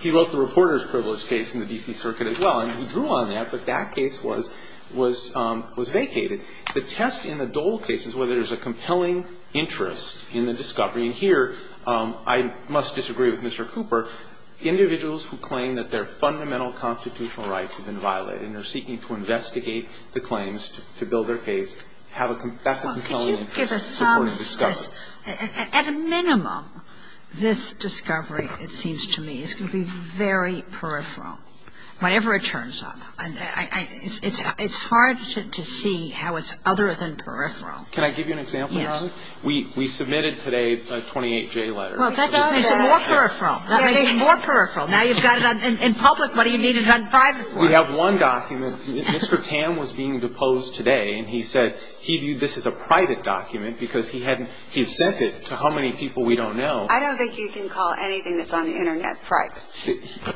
He wrote the reporter's privilege case in the D.C. Circuit as well, and he drew on that, but that case was vacated. The test in the Dole case is whether there's a compelling interest in the discovery, and here I must disagree with Mr. Cooper. Individuals who claim that their fundamental constitutional rights have been violated and are seeking to investigate the claims to build their case have a compelling interest in the discovery. At a minimum, this discovery, it seems to me, is going to be very peripheral, whatever it turns out. It's hard to see how it's other than peripheral. Can I give you an example? Yes. We submitted today a 28-J letter. Well, that makes it more peripheral. That makes it more peripheral. Now you've got it in public, what do you need it on private for? We have one document. Mr. Tam was being deposed today, and he said he viewed this as a private document because he had sent it to how many people we don't know. I don't think you can call anything that's on the Internet private.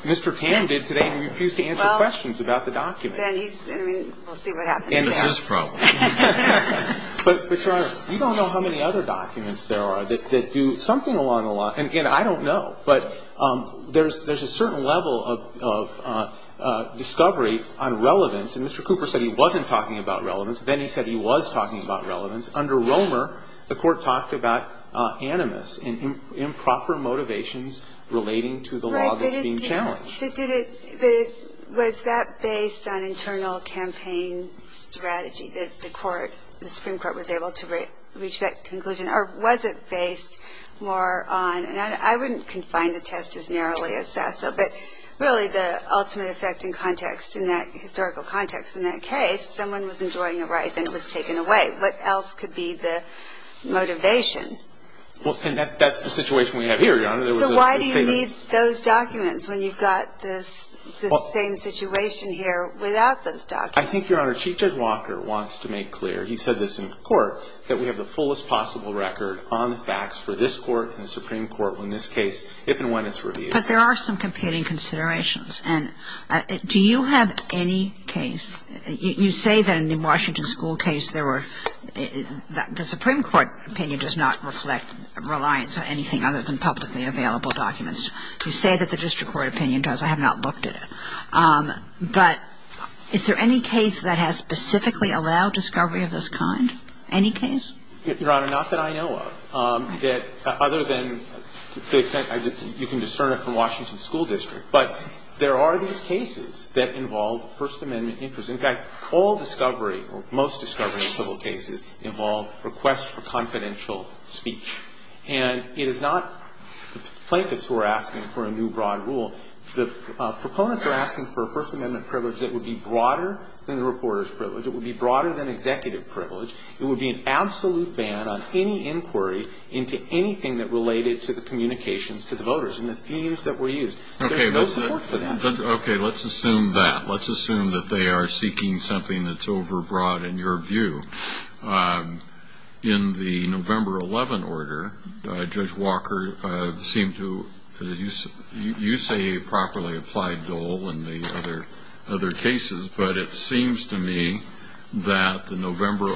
Mr. Tam did today, and he refused to answer questions about the document. We'll see what happens there. That's his problem. But, Your Honor, we don't know how many other documents there are that do something along the lines, and again, I don't know, but there's a certain level of discovery on relevance, and Mr. Cooper said he wasn't talking about relevance, then he said he was talking about relevance. Under Romer, the court talked about animus, improper motivations relating to the law that's being challenged. Was that based on internal campaign strategy that the Supreme Court was able to reach that conclusion, or was it based more on, and I wouldn't confine the test as narrowly as that, but really the ultimate effect in context, in that historical context, in that case, if someone was enjoying a ride and it was taken away, what else could be the motivation? Well, that's the situation we have here, Your Honor. So why do you need those documents when you've got this same situation here without those documents? I think, Your Honor, Chief Judge Walker wants to make clear, he said this in his court, that we have the fullest possible record on the facts for this court and the Supreme Court when this case, if and when it's reviewed. But there are some competing considerations, and do you have any case, you say that in the Washington School case, the Supreme Court opinion does not reflect reliance on anything other than publicly available documents. You say that the district court opinion does. I have not looked at it. But is there any case that has specifically allowed discovery of this kind? Any case? Your Honor, not that I know of. Other than, to the extent you can discern it from Washington School District. But there are these cases that involve First Amendment inquiries. In fact, all discovery, or most discovery of civil cases, involve requests for confidential speech. And it is not plaintiffs who are asking for a new broad rule. The proponents are asking for a First Amendment privilege that would be broader than the reporter's privilege. It would be broader than executive privilege. It would be an absolute ban on any inquiry into anything that related to the communications to the voters and the themes that were used. Okay, let's assume that. Let's assume that they are seeking something that's overbroad in your view. In the November 11 order, Judge Walker seemed to use a properly applied goal in the other cases. But it seems to me that the November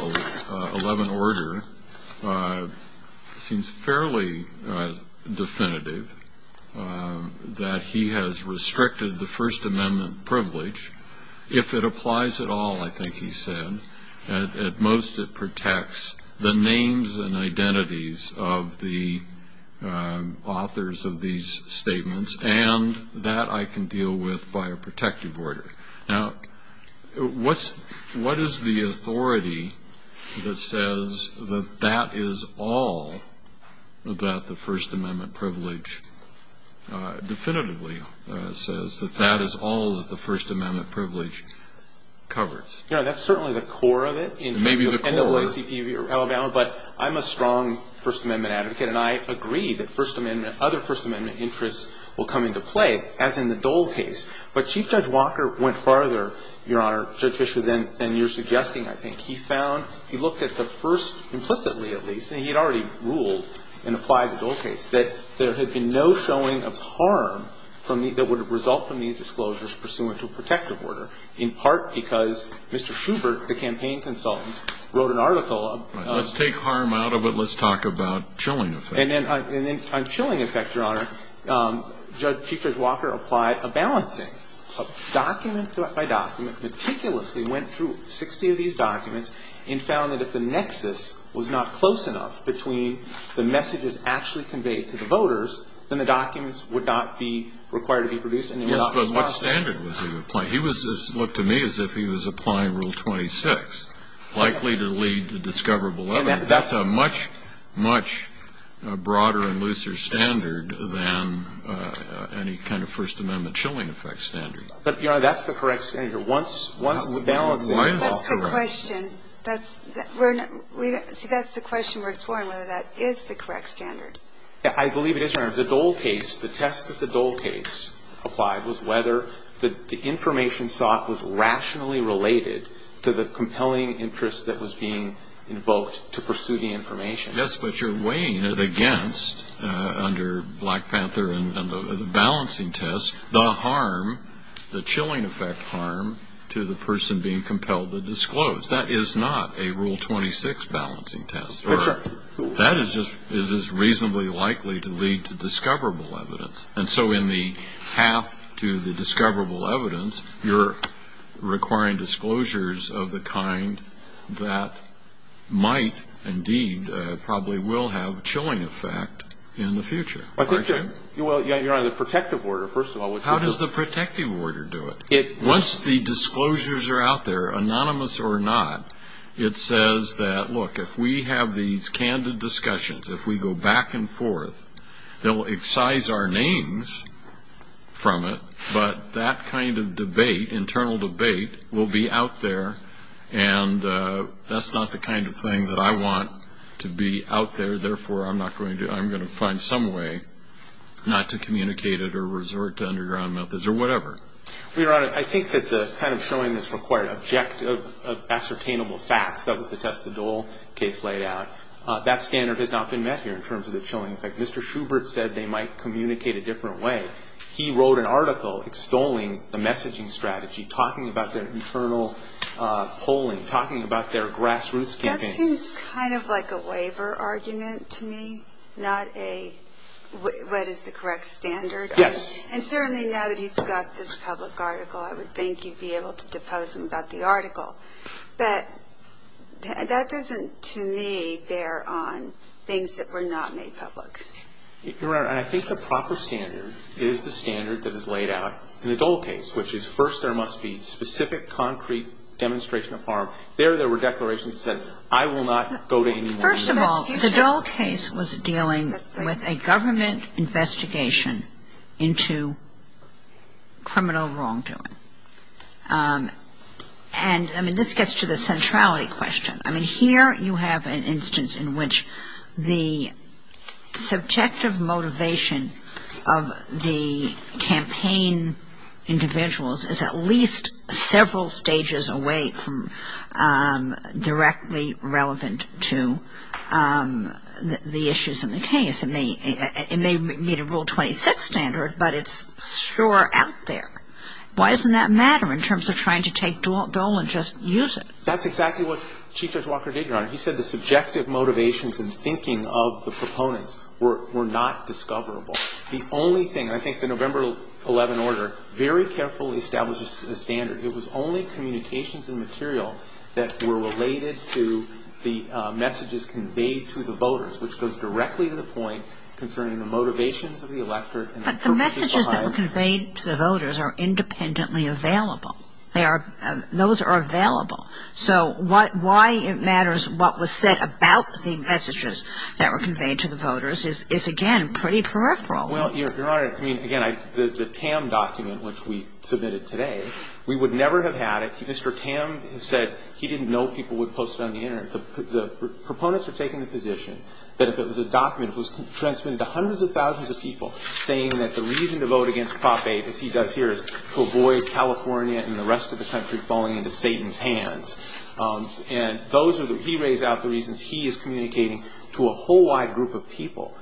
11 order seems fairly definitive. That he has restricted the First Amendment privilege. If it applies at all, I think he said, at most it protects the names and identities of the authors of these statements. And that I can deal with by a protective order. Now, what is the authority that says that that is all that the First Amendment privilege definitively says? That that is all that the First Amendment privilege covers? Yeah, that's certainly the core of it. Maybe the core. But I'm a strong First Amendment advocate, and I agree that other First Amendment interests will come into play, as in the Dole case. But Chief Judge Walker went farther, Your Honor, Judge Fischer, than you're suggesting, I think. He found, he looked at the First, implicitly at least, and he had already ruled and applied the Dole case, that there had been no showing of harm that would have resulted from these disclosures pursuant to a protective order. In part because Mr. Schubert, the campaign consultant, wrote an article. Let's take harm out of it. Let's talk about chilling effects. And then on chilling effects, Your Honor, Judge Chief Judge Walker applied a balancing. Documents after documents, meticulously went through 60 of these documents and found that if the nexus was not close enough between the messages actually conveyed to the voters, then the documents would not be required to be produced. But what standard was he applying? He looked to me as if he was applying Rule 26, likely to lead to discoverable evidence. That's a much, much broader and looser standard than any kind of First Amendment chilling effect standard. But, Your Honor, that's the correct standard. That's the question. That's the question we're exploring, whether that is the correct standard. I believe it is, Your Honor. The test that the Dole case applied was whether the information sought was rationally related to the compelling interest that was being invoked to pursue the information. Yes, but you're weighing it against, under Black Panther and the balancing test, the harm, the chilling effect harm to the person being compelled to disclose. That is not a Rule 26 balancing test. That's right. That is just reasonably likely to lead to discoverable evidence. And so in the path to the discoverable evidence, you're requiring disclosures of the kind that might, indeed, probably will have a chilling effect in the future. Well, Your Honor, the protective order, first of all. How does the protective order do it? Once the disclosures are out there, anonymous or not, it says that, look, if we have these candid discussions, if we go back and forth, they'll excise our names from it, but that kind of debate, internal debate, will be out there, and that's not the kind of thing that I want to be out there, therefore I'm going to find some way not to communicate it or resort to underground methods or whatever. Your Honor, I think that the kind of showing this required objective, ascertainable facts, that was the test the Dole case laid out, that standard has not been met here in terms of the chilling effect. Mr. Schubert said they might communicate a different way. He wrote an article extolling the messaging strategy, talking about their internal polling, talking about their grassroots campaign. That seems kind of like a waiver argument to me, not a what is the correct standard. Yes. And certainly now that he's got this public article, I would think you'd be able to depose him about the article. But that doesn't, to me, bear on things that were not made public. Your Honor, I think the proper standard is the standard that is laid out in the Dole case, which is first there must be specific, concrete demonstration of power. There, there were declarations that said, I will not go to any more than that. Well, first of all, the Dole case was dealing with a government investigation into criminal wrongdoing. And, I mean, this gets to the centrality question. I mean, here you have an instance in which the subjective motivation of the campaign individuals is at least several stages away from directly relevant to the issues in the case. It may meet a Rule 26 standard, but it's sure out there. Why doesn't that matter in terms of trying to take Dole and just use it? That's exactly what Chief Judge Walker did, Your Honor. He said the subjective motivations and thinking of the proponents were not discoverable. The only thing, I think the November 11 order very carefully establishes the standard. It was only communications and material that were related to the messages conveyed to the voters, which goes directly to the point concerning the motivations of the electorate. But the messages that were conveyed to the voters are independently available. They are, those are available. So why it matters what was said about the messages that were conveyed to the voters is, again, pretty peripheral. Well, Your Honor, I mean, again, the Tam document, which we submitted today, we would never have had it. Mr. Tam said he didn't know people would post it on the Internet. The proponents had taken the position that the document was transmitted to hundreds of thousands of people saying that the reason to vote against Prop 8, as he does here, is to avoid California and the rest of the country falling into Satan's hands. And those are the, he lays out the reasons he is communicating to a whole wide group of people.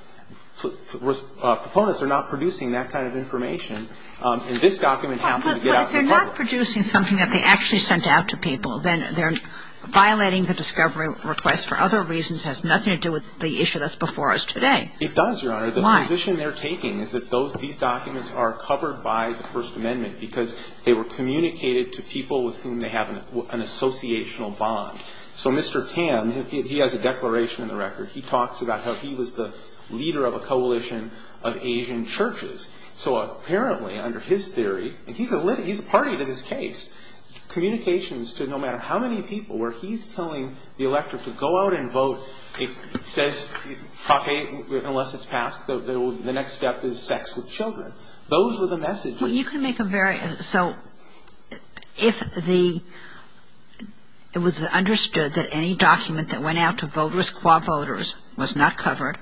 Proponents are not producing that kind of information, and this document happens to get out to the public. But they're not producing something that they actually sent out to people. Then they're violating the discovery request for other reasons. It has nothing to do with the issue that's before us today. It does, Your Honor. Why? The position they're taking is that these documents are covered by the First Amendment because they were communicated to people with whom they have an associational bond. So Mr. Tam, he has a declaration in the record. He talks about how he was the leader of a coalition of Asian churches. So apparently, under his theory, and he's a party to this case, communications to no matter how many people, where he's telling the electorate to go out and vote, it says, unless it's passed, the next step is sex with children. Those were the messages. You can make a very, so if the, it was understood that any document that went out to vote with quad voters was not covered,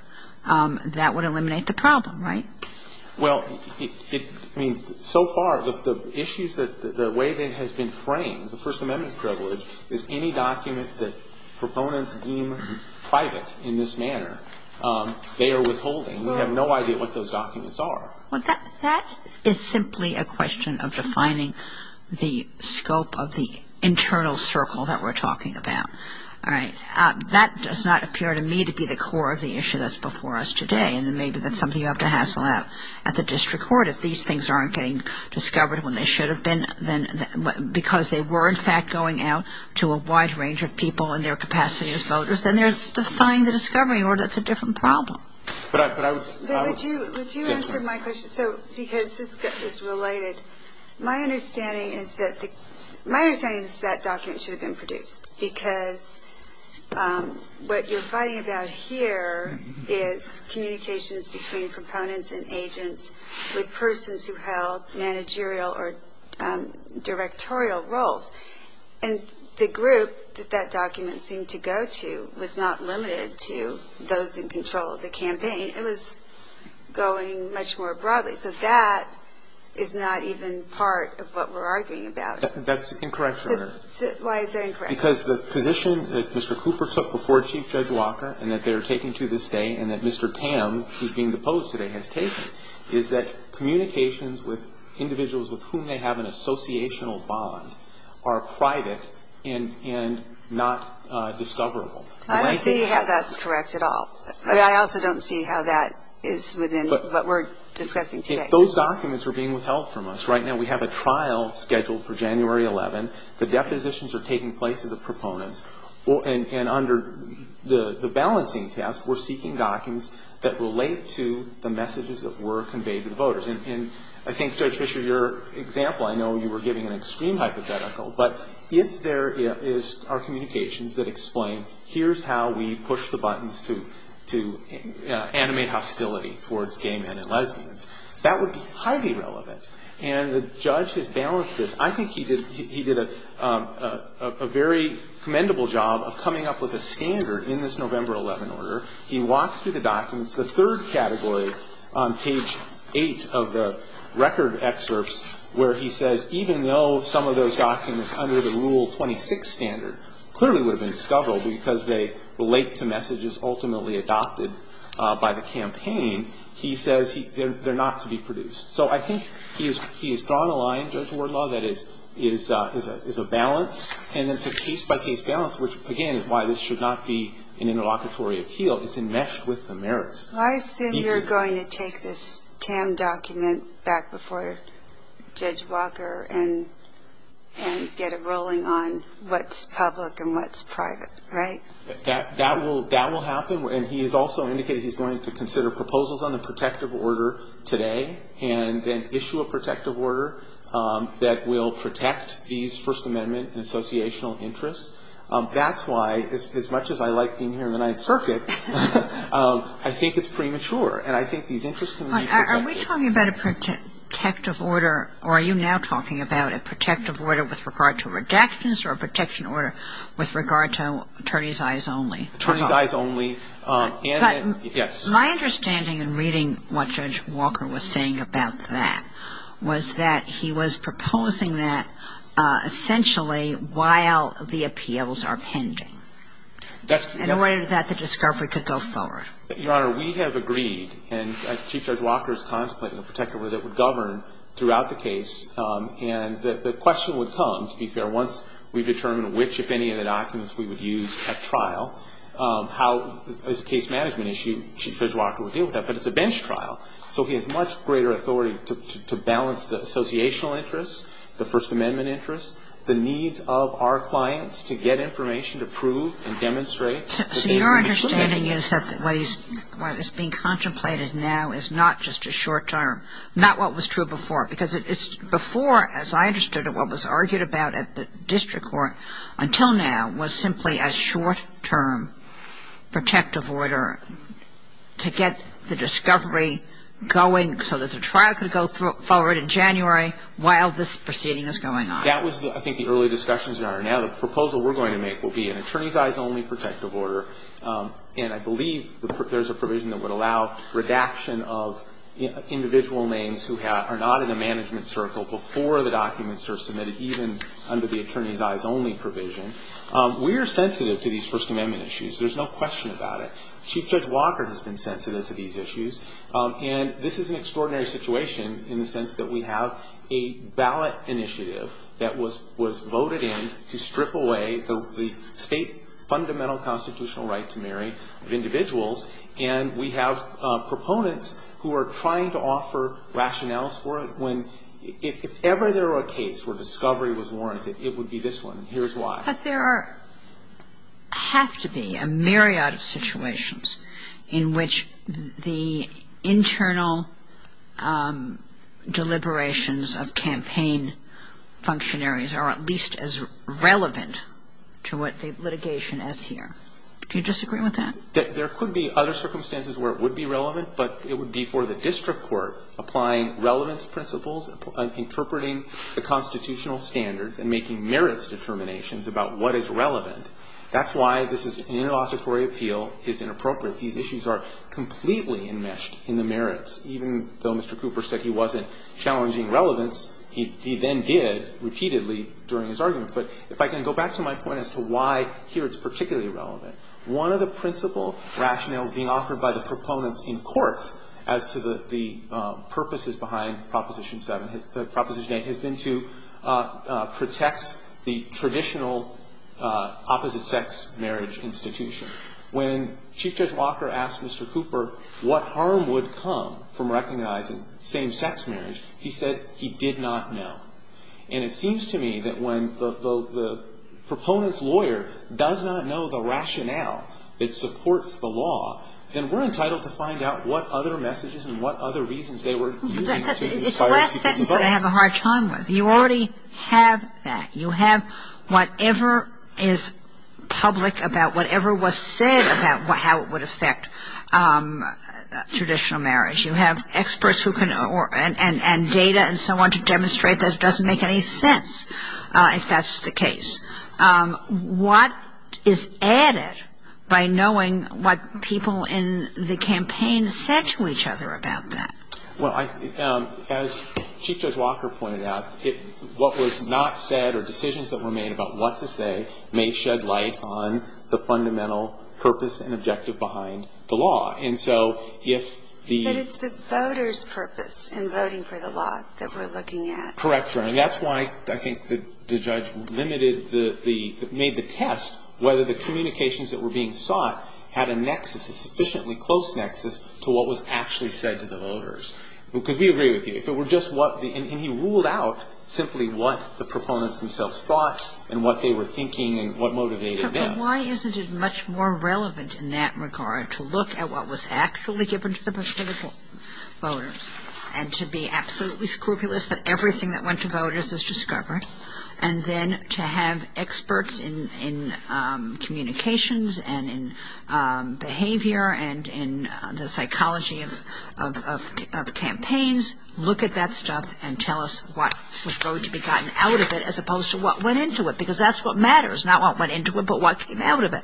that would eliminate the problem, right? Well, so far, the issues that, the way that it has been framed, the First Amendment privilege, is any document that proponents deem private in this manner, they are withholding. We have no idea what those documents are. Well, that is simply a question of defining the scope of the internal circle that we're talking about. All right. That does not appear to me to be the core of the issue that's before us today, and maybe that's something you have to hassle out at the district court if these things aren't getting discovered when they should have been, because they were, in fact, going out to a wide range of people in their capacity as voters, then there's the sign of discovery, or that's a different problem. But I was, I was. But would you, would you answer my question? So, because this is related, my understanding is that, my understanding is that document should have been produced, because what you're fighting about here is communications between proponents and agents with persons who held managerial or directorial roles. And the group that that document seemed to go to was not limited to those in control of the campaign. It was going much more broadly. So that is not even part of what we're arguing about. That's incorrect, Your Honor. Why is that incorrect? Because the position that Mr. Cooper took before Chief Judge Walker, and that they're taking to this day, and that Mr. Tam, who's being deposed today, has taken, is that communications with individuals with whom they have an associational bond are private and not discoverable. I don't see how that's correct at all. I also don't see how that is within what we're discussing today. Those documents are being withheld from us. Right now we have a trial scheduled for January 11th. The depositions are taking place with the proponents. And under the balancing task, we're seeking documents that relate to the messages that were conveyed to the voters. And I think, Judge Fischer, your example, I know you were giving an extreme hypothetical, but if there are communications that explain, here's how we push the buttons to animate hostility towards gay men and lesbians, that would be highly relevant. And the judge has balanced this. I think he did a very commendable job of coming up with a standard in this November 11 order. He walks through the documents. The third category on page 8 of the record excerpts where he says, even though some of those documents under the Rule 26 standard clearly would have been discoverable because they relate to messages ultimately adopted by the campaign, he says they're not to be produced. So I think he has drawn a line, Judge Wardlaw, that is a balance. And it's a case-by-case balance, which, again, is why this should not be an interlocutory appeal. It's enmeshed with the merits. Well, I assume you're going to take this TAM document back before Judge Walker and get a ruling on what's public and what's private, right? That will happen. And he has also indicated he's going to consider proposals on the protective order today and then issue a protective order that will protect these First Amendment and associational interests. That's why, as much as I like being here in the Ninth Circuit, I think it's premature. Are we talking about a protective order, or are you now talking about a protective order with regard to redactions or a protection order with regard to attorneys' eyes only? My understanding in reading what Judge Walker was saying about that was that he was proposing that essentially while the appeals are pending in order that the discovery could go forward. Your Honor, we have agreed, and as Chief Judge Walker has contemplated, a protective order that would govern throughout the case. And the question would come, to be fair, once we determine which, if any, of the documents we would use at trial, how, as a case management issue, Chief Judge Walker would deal with that. But it's a bench trial, so he has much greater authority to balance the associational interests, the First Amendment interests, the needs of our clients to get information to prove and demonstrate. So your understanding is that what is being contemplated now is not just a short-term, not what was true before. Because before, as I understood it, what was argued about at the district court until now was simply a short-term protective order to get the discovery going so that the trial could go forward in January while this proceeding is going on. That was, I think, the early discussions, Your Honor. Now the proposal we're going to make will be an attorneys' eyes only protective order. And I believe there's a provision that would allow redaction of individual names who are not in the management circle before the documents are submitted, even under the attorneys' eyes only provision. We are sensitive to these First Amendment issues. There's no question about it. Chief Judge Walker has been sensitive to these issues. And this is an extraordinary situation in the sense that we have a ballot initiative that was voted in to strip away the state fundamental constitutional right to marry of individuals. And we have proponents who are trying to offer rationales for it. If ever there were a case where discovery was warranted, it would be this one. Here's why. But there has to be a myriad of situations in which the internal deliberations of campaign functionaries are at least as relevant to what the litigation is here. Do you disagree with that? There could be other circumstances where it would be relevant, but it would be for the district court applying relevance principles and interpreting the constitutional standards and making merits determinations about what is relevant. That's why this is an inauspicious appeal. It's inappropriate. These issues are completely enmeshed in the merits. Even though Mr. Cooper said he wasn't challenging relevance, he then did repeatedly during his argument. But if I can go back to my point as to why here it's particularly relevant, one of the principle rationales being offered by the proponents in court as to the purposes behind Proposition 8 has been to protect the traditional opposite-sex marriage institution. When Chief Justice Walker asked Mr. Cooper what harm would come from recognizing same-sex marriage, he said he did not know. And it seems to me that when the proponent's lawyer does not know the rationale that supports the law, then we're entitled to find out what other messages and what other reasons they were using. It's the last sentence that I have a hard time with. You already have that. You have whatever is public about whatever was said about how it would affect traditional marriage. You have experts and data and so on to demonstrate that it doesn't make any sense if that's the case. What is added by knowing what people in the campaign said to each other about that? Well, as Chief Justice Walker pointed out, what was not said or decisions that were made about what to say may shed light on the fundamental purpose and objective behind the law. But it's the voters' purpose in voting for the law that we're looking at. Correct. And that's why I think the judge made the test whether the communications that were being sought had a sufficiently close nexus to what was actually said to the voters. Because we agree with you. And he ruled out simply what the proponents themselves thought and what they were thinking and what motivated them. But why isn't it much more relevant in that regard to look at what was actually given to the voters and to be absolutely scrupulous that everything that went to voters is discovered and then to have experts in communications and in behavior and in the psychology of campaigns look at that stuff and tell us what was going to be gotten out of it as opposed to what went into it and what came out of it?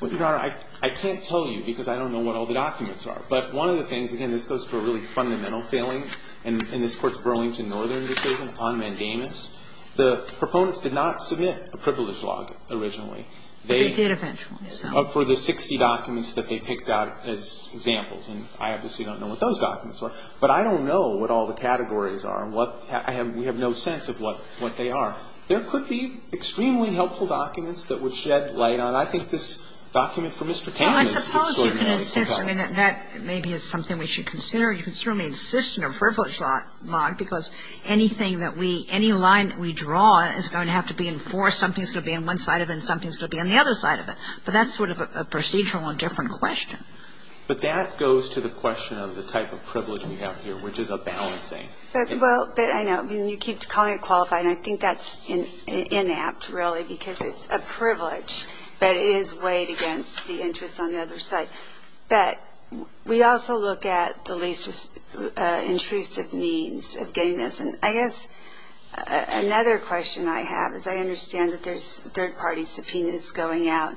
Well, Your Honor, I can't tell you because I don't know what all the documents are. But one of the things, again, this goes to a really fundamental feeling in this Court's Burlington Northern decision on mandamus. The proponents did not submit a privilege log originally. They did eventually. For the 60 documents that they picked out as examples. And I obviously don't know what those documents are. But I don't know what all the categories are. We have no sense of what they are. Now, there could be extremely helpful documents that would shed light on it. I think this document for Mr. Tammy. I suppose you can insist. Maybe it's something we should consider. You can certainly insist on a privilege log because anything that we, any line that we draw is going to have to be enforced. Something's going to be on one side of it and something's going to be on the other side of it. But that's sort of a procedural and different question. But that goes to the question of the type of privilege we have here, which is a balancing. Well, I know. I mean, you keep calling it qualifying. I think that's inapt, really, because it's a privilege that is weighed against the interest on the other side. But we also look at the least intrusive means of getting this. And I guess another question I have is I understand that there's third-party subpoenas going out.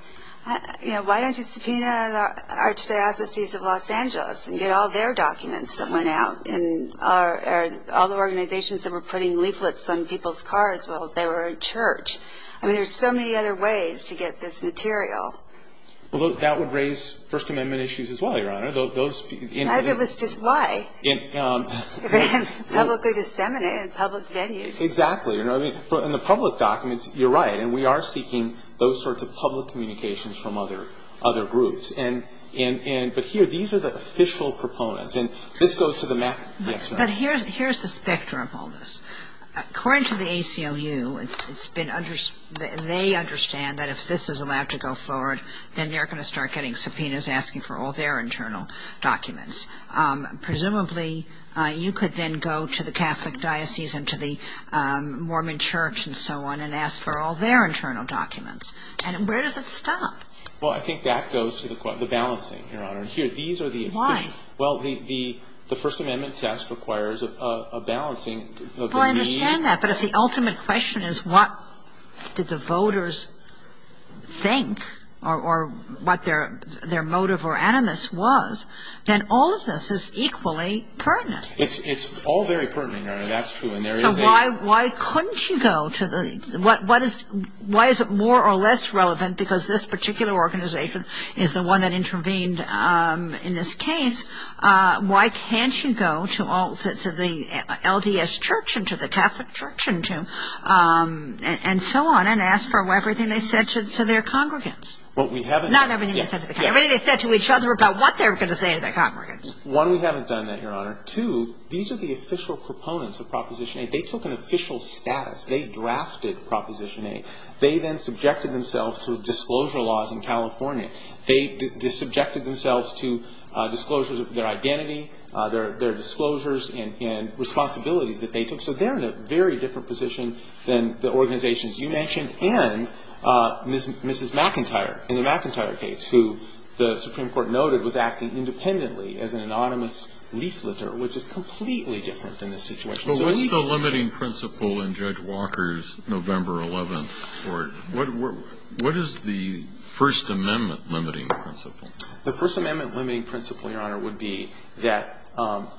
You know, why don't you subpoena Archdiocese of Los Angeles and get all their documents that went out, and all the organizations that were putting leaflets on people's cars while they were in church? I mean, there's so many other ways to get this material. Well, that would raise First Amendment issues as well, Your Honor. Those speak into that. I don't understand why. It would be publicly disseminated in public venues. Exactly. I mean, in the public documents, you're right, and we are seeking those sorts of public communications from other groups. But here, these are the official proponents, and this goes to the map. But here's the specter of all this. According to the ACLU, they understand that if this is allowed to go forward, then they're going to start getting subpoenas asking for all their internal documents. Presumably, you could then go to the Catholic Diocese and to the Mormon Church and so on and ask for all their internal documents. And where does it stop? Well, I think that goes to the balancing, Your Honor. Why? Well, the First Amendment test requires a balancing. Well, I understand that, but if the ultimate question is what did the voters think or what their motive or animus was, then all of this is equally pertinent. It's all very pertinent, Your Honor. That's true. So why couldn't you go to the – why is it more or less relevant because this particular organization is the one that intervened in this case? Why can't you go to the LDS Church and to the Catholic Church and so on and ask for everything they said to their congregants? Not everything they said to their congregants. Everything they said to each other about what they were going to say to their congregants. One, we haven't done that, Your Honor. Two, these are the official proponents of Proposition 8. They took an official status. They drafted Proposition 8. They then subjected themselves to disclosure laws in California. They subjected themselves to disclosures of their identity, their disclosures and responsibilities that they took. So they're in a very different position than the organizations you mentioned and Mrs. McIntyre in the McIntyre case, who the Supreme Court noted was acting independently as an anonymous leafleter, which is completely different than this situation. But what's the limiting principle in Judge Walker's November 11th court? What is the First Amendment limiting principle? The First Amendment limiting principle, Your Honor, would be that,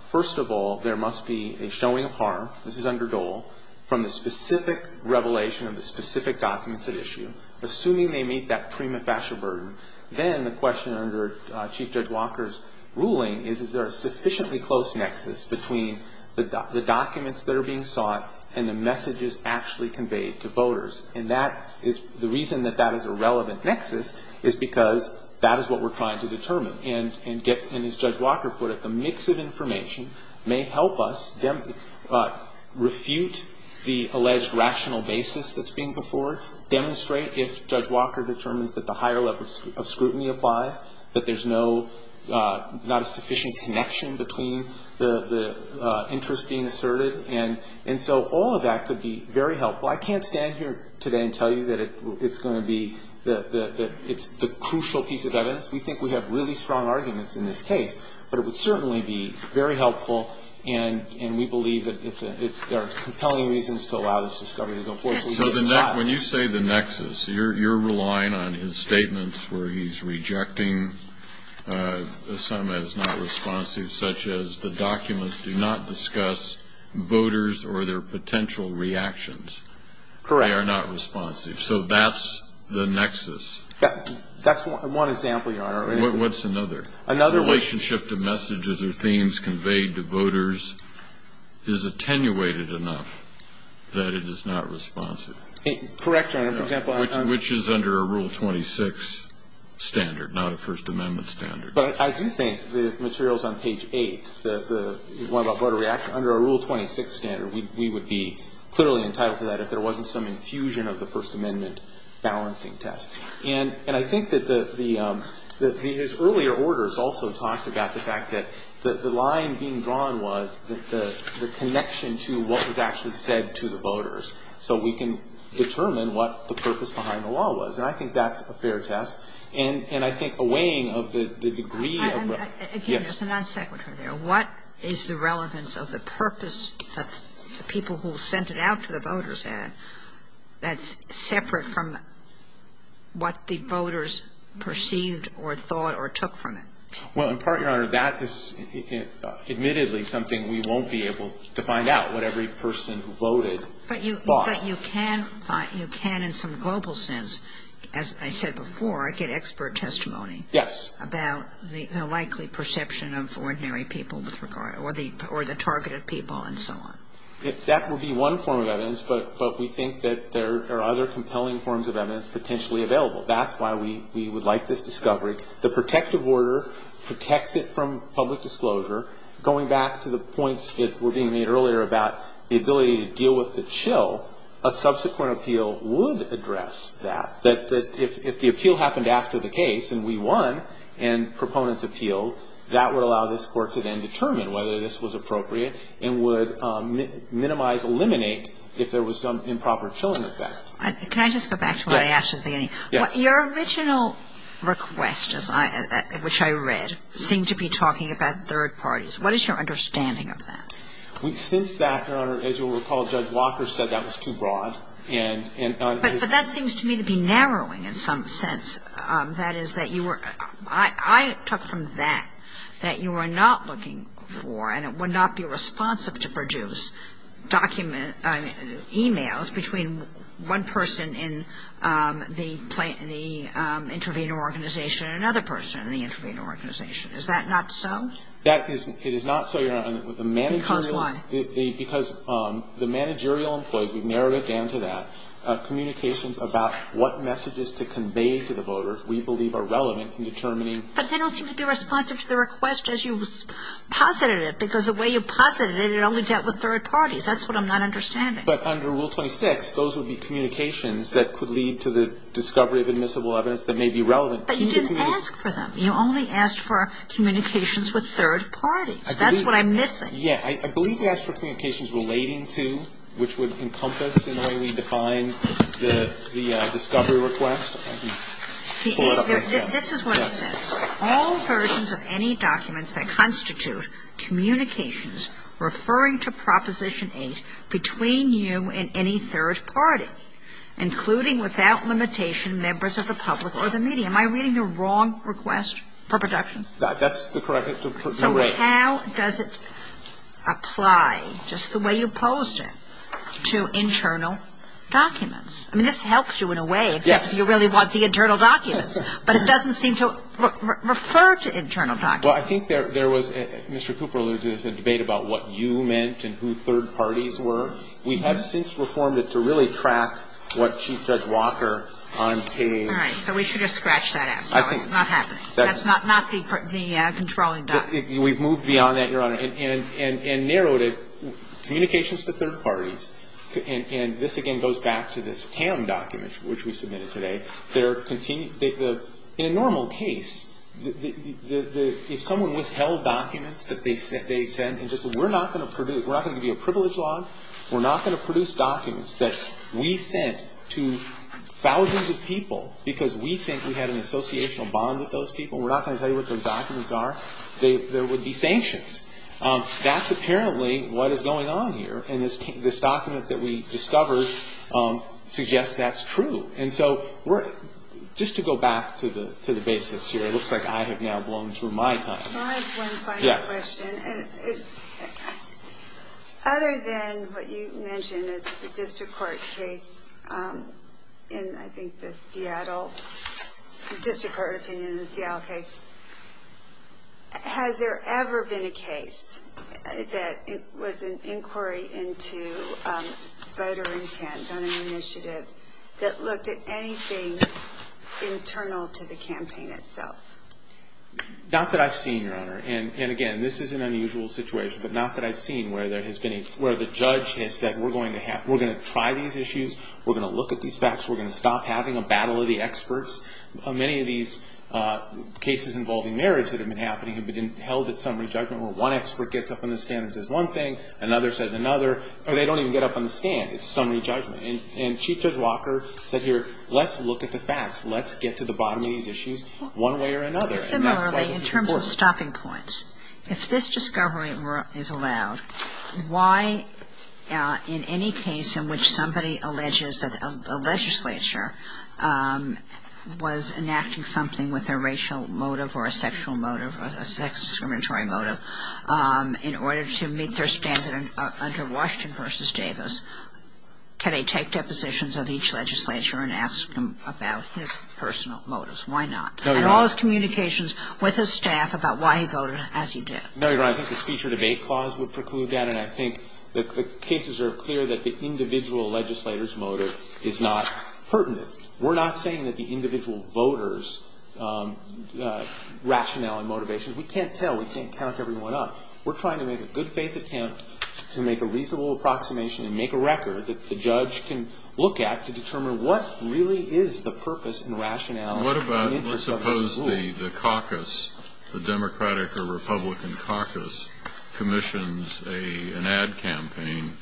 first of all, there must be a showing of harm, this is under Dole, from the specific revelation of the specific documents at issue. Assuming they meet that prima facie burden, then the question under Chief Judge Walker's ruling is, is there a sufficiently close nexus between the documents that are being sought and the messages actually conveyed to voters? And the reason that that is a relevant nexus is because that is what we're trying to determine. And as Judge Walker put it, the mix of information may help us refute the alleged rational basis that's being put forward, demonstrate if Judge Walker determines that the higher level of scrutiny applies, that there's not a sufficient connection between the interest being asserted. And so all of that could be very helpful. I can't stand here today and tell you that it's going to be the crucial piece of evidence. We think we have really strong arguments in this case, but it would certainly be very helpful, and we believe that there are compelling reasons to allow this discovery to go forward. So when you say the nexus, you're relying on his statements where he's rejecting some that is not responsive, such as the documents do not discuss voters or their potential reactions. Correct. They are not responsive. So that's the nexus. That's one example, Your Honor. What's another? The relationship to messages or themes conveyed to voters is attenuated enough that it is not responsive. Correct, Your Honor. Which is under a Rule 26 standard, not a First Amendment standard. But I do think the materials on page 8, the one about voter reaction, under a Rule 26 standard, we would be clearly entitled to that if there wasn't some infusion of the First Amendment balancing test. And I think that his earlier orders also talked about the fact that the line being drawn was the connection to what was actually said to the voters, so we can determine what the purpose behind the law was. And I think that's a fair test. And I think a weighing of the degree of... Again, as a non-secretary there, what is the relevance of the purpose of the people who sent it out to the voters ad that's separate from what the voters perceived or thought or took from it? Well, in part, Your Honor, that is admittedly something we won't be able to find out what every person who voted thought. But you can, in some global sense, as I said before, get expert testimony... Yes. ...about the likely perception of ordinary people or the targeted people and so on. That would be one form of evidence, but we think that there are other compelling forms of evidence potentially available. That's why we would like this discovery. The protective order protects it from public disclosure. Going back to the points that were being made earlier about the ability to deal with the chill, a subsequent appeal would address that. If the appeal happened after the case and we won and proponents appealed, that would allow this court to then determine whether this was appropriate and would minimize or eliminate if there was some improper chilling effect. Can I just go back to what I asked at the beginning? Yes. Your original request, which I read, seemed to be talking about third parties. What is your understanding of that? We think that, Your Honor, as you'll recall, Judge Walker said that was too broad and... But that seems to me to be narrowing in some sense. That is that you were... I took from that that you are not looking for, and it would not be responsive to produce documents, e-mails between one person in the intervening organization and another person in the intervening organization. Is that not so? That is not so, Your Honor. Because why? Because the managerial employees, we've narrowed it down to that, communications about what messages to convey to the voters we believe are relevant in determining... But they don't seem to be responsive to the request as you posited it, because the way you posited it, it only dealt with third parties. That's what I'm not understanding. But under Rule 26, those would be communications that could lead to the discovery of admissible evidence that may be relevant. But you didn't ask for them. You only asked for communications with third parties. That's what I'm missing. Yeah, I believe you asked for communications relating to, which would encompass in how we define the discovery request. This is what it says. All versions of any documents that constitute communications referring to Proposition 8 between you and any third party, including without limitation members of the public or the media. Am I reading the wrong request for production? That's correct. So how does it apply, just the way you posed it, to internal documents? I mean, this helps you in a way if you really want the internal documents. But it doesn't seem to refer to internal documents. Well, I think there was, Mr. Cooper alluded to this, a debate about what you meant and who third parties were. We have since reformed it to really track what she says Walker on page... All right, so we should have scratched that out. That's not the controlling document. We've moved beyond that, Your Honor, and narrowed it. Communications to third parties, and this again goes back to this CAM document, which we submitted today. In a normal case, if someone withheld documents that they sent, and just said we're not going to produce, we're not going to do a privilege log, we're not going to produce documents that we sent to thousands of people because we think we had an associational bond with those people. We're not going to tell you what those documents are. There would be sanctions. That's apparently what is going on here, and this document that we discovered suggests that's true. And so just to go back to the basics here, it looks like I have now blown through my time. I have one final question. Other than what you mentioned, the district court case in, I think, the Seattle, the district court opinion in the Seattle case, has there ever been a case that was an inquiry into voter intent on an initiative that looked at anything internal to the campaign itself? Not that I've seen, Your Honor. And again, this is an unusual situation, but not that I've seen where the judge has said we're going to try these issues, we're going to look at these facts, we're going to stop having a battle of the experts. Many of these cases involving marriage that have been happening have been held at summary judgment where one expert gets up on the stand and says one thing, another says another, or they don't even get up on the stand. It's summary judgment. And Chief Judge Walker said here, let's look at the facts. Let's get to the bottom of these issues one way or another. In terms of stopping points, if this discovery is allowed, why in any case in which somebody alleges that a legislature was enacting something with a racial motive or a sexual motive, a sex discriminatory motive, in order to meet their standard under Washington v. Davis, can they take depositions of each legislature and ask them about their personal motives? Why not? And all his communications with his staff about why he voted as he did. No, Your Honor, I think the speech or debate clause would preclude that, and I think the cases are clear that the individual legislator's motive is not pertinent. We're not saying that the individual voter's rationale and motivation, we can't tell, we can't count everyone up. We're trying to make a good faith attempt to make a reasonable approximation and make a record that the judge can look at to determine what really is the purpose and rationale. What about, let's suppose the caucus, the Democratic or Republican caucus commissions an ad campaign,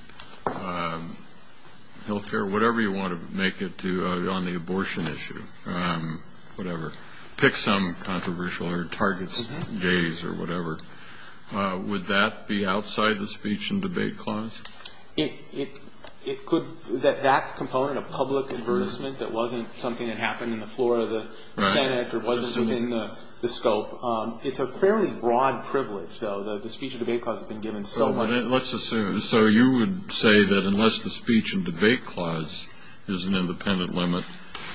health care, whatever you want to make it to on the abortion issue, whatever, pick some controversial or target gaze or whatever. Would that be outside the speech and debate clause? It could. That component of public endorsement that wasn't something that happened in the floor of the Senate or wasn't in the scope, it's a fairly broad privilege, though. The speech and debate clause has been given so much. So you would say that unless the speech and debate clause is an independent limit,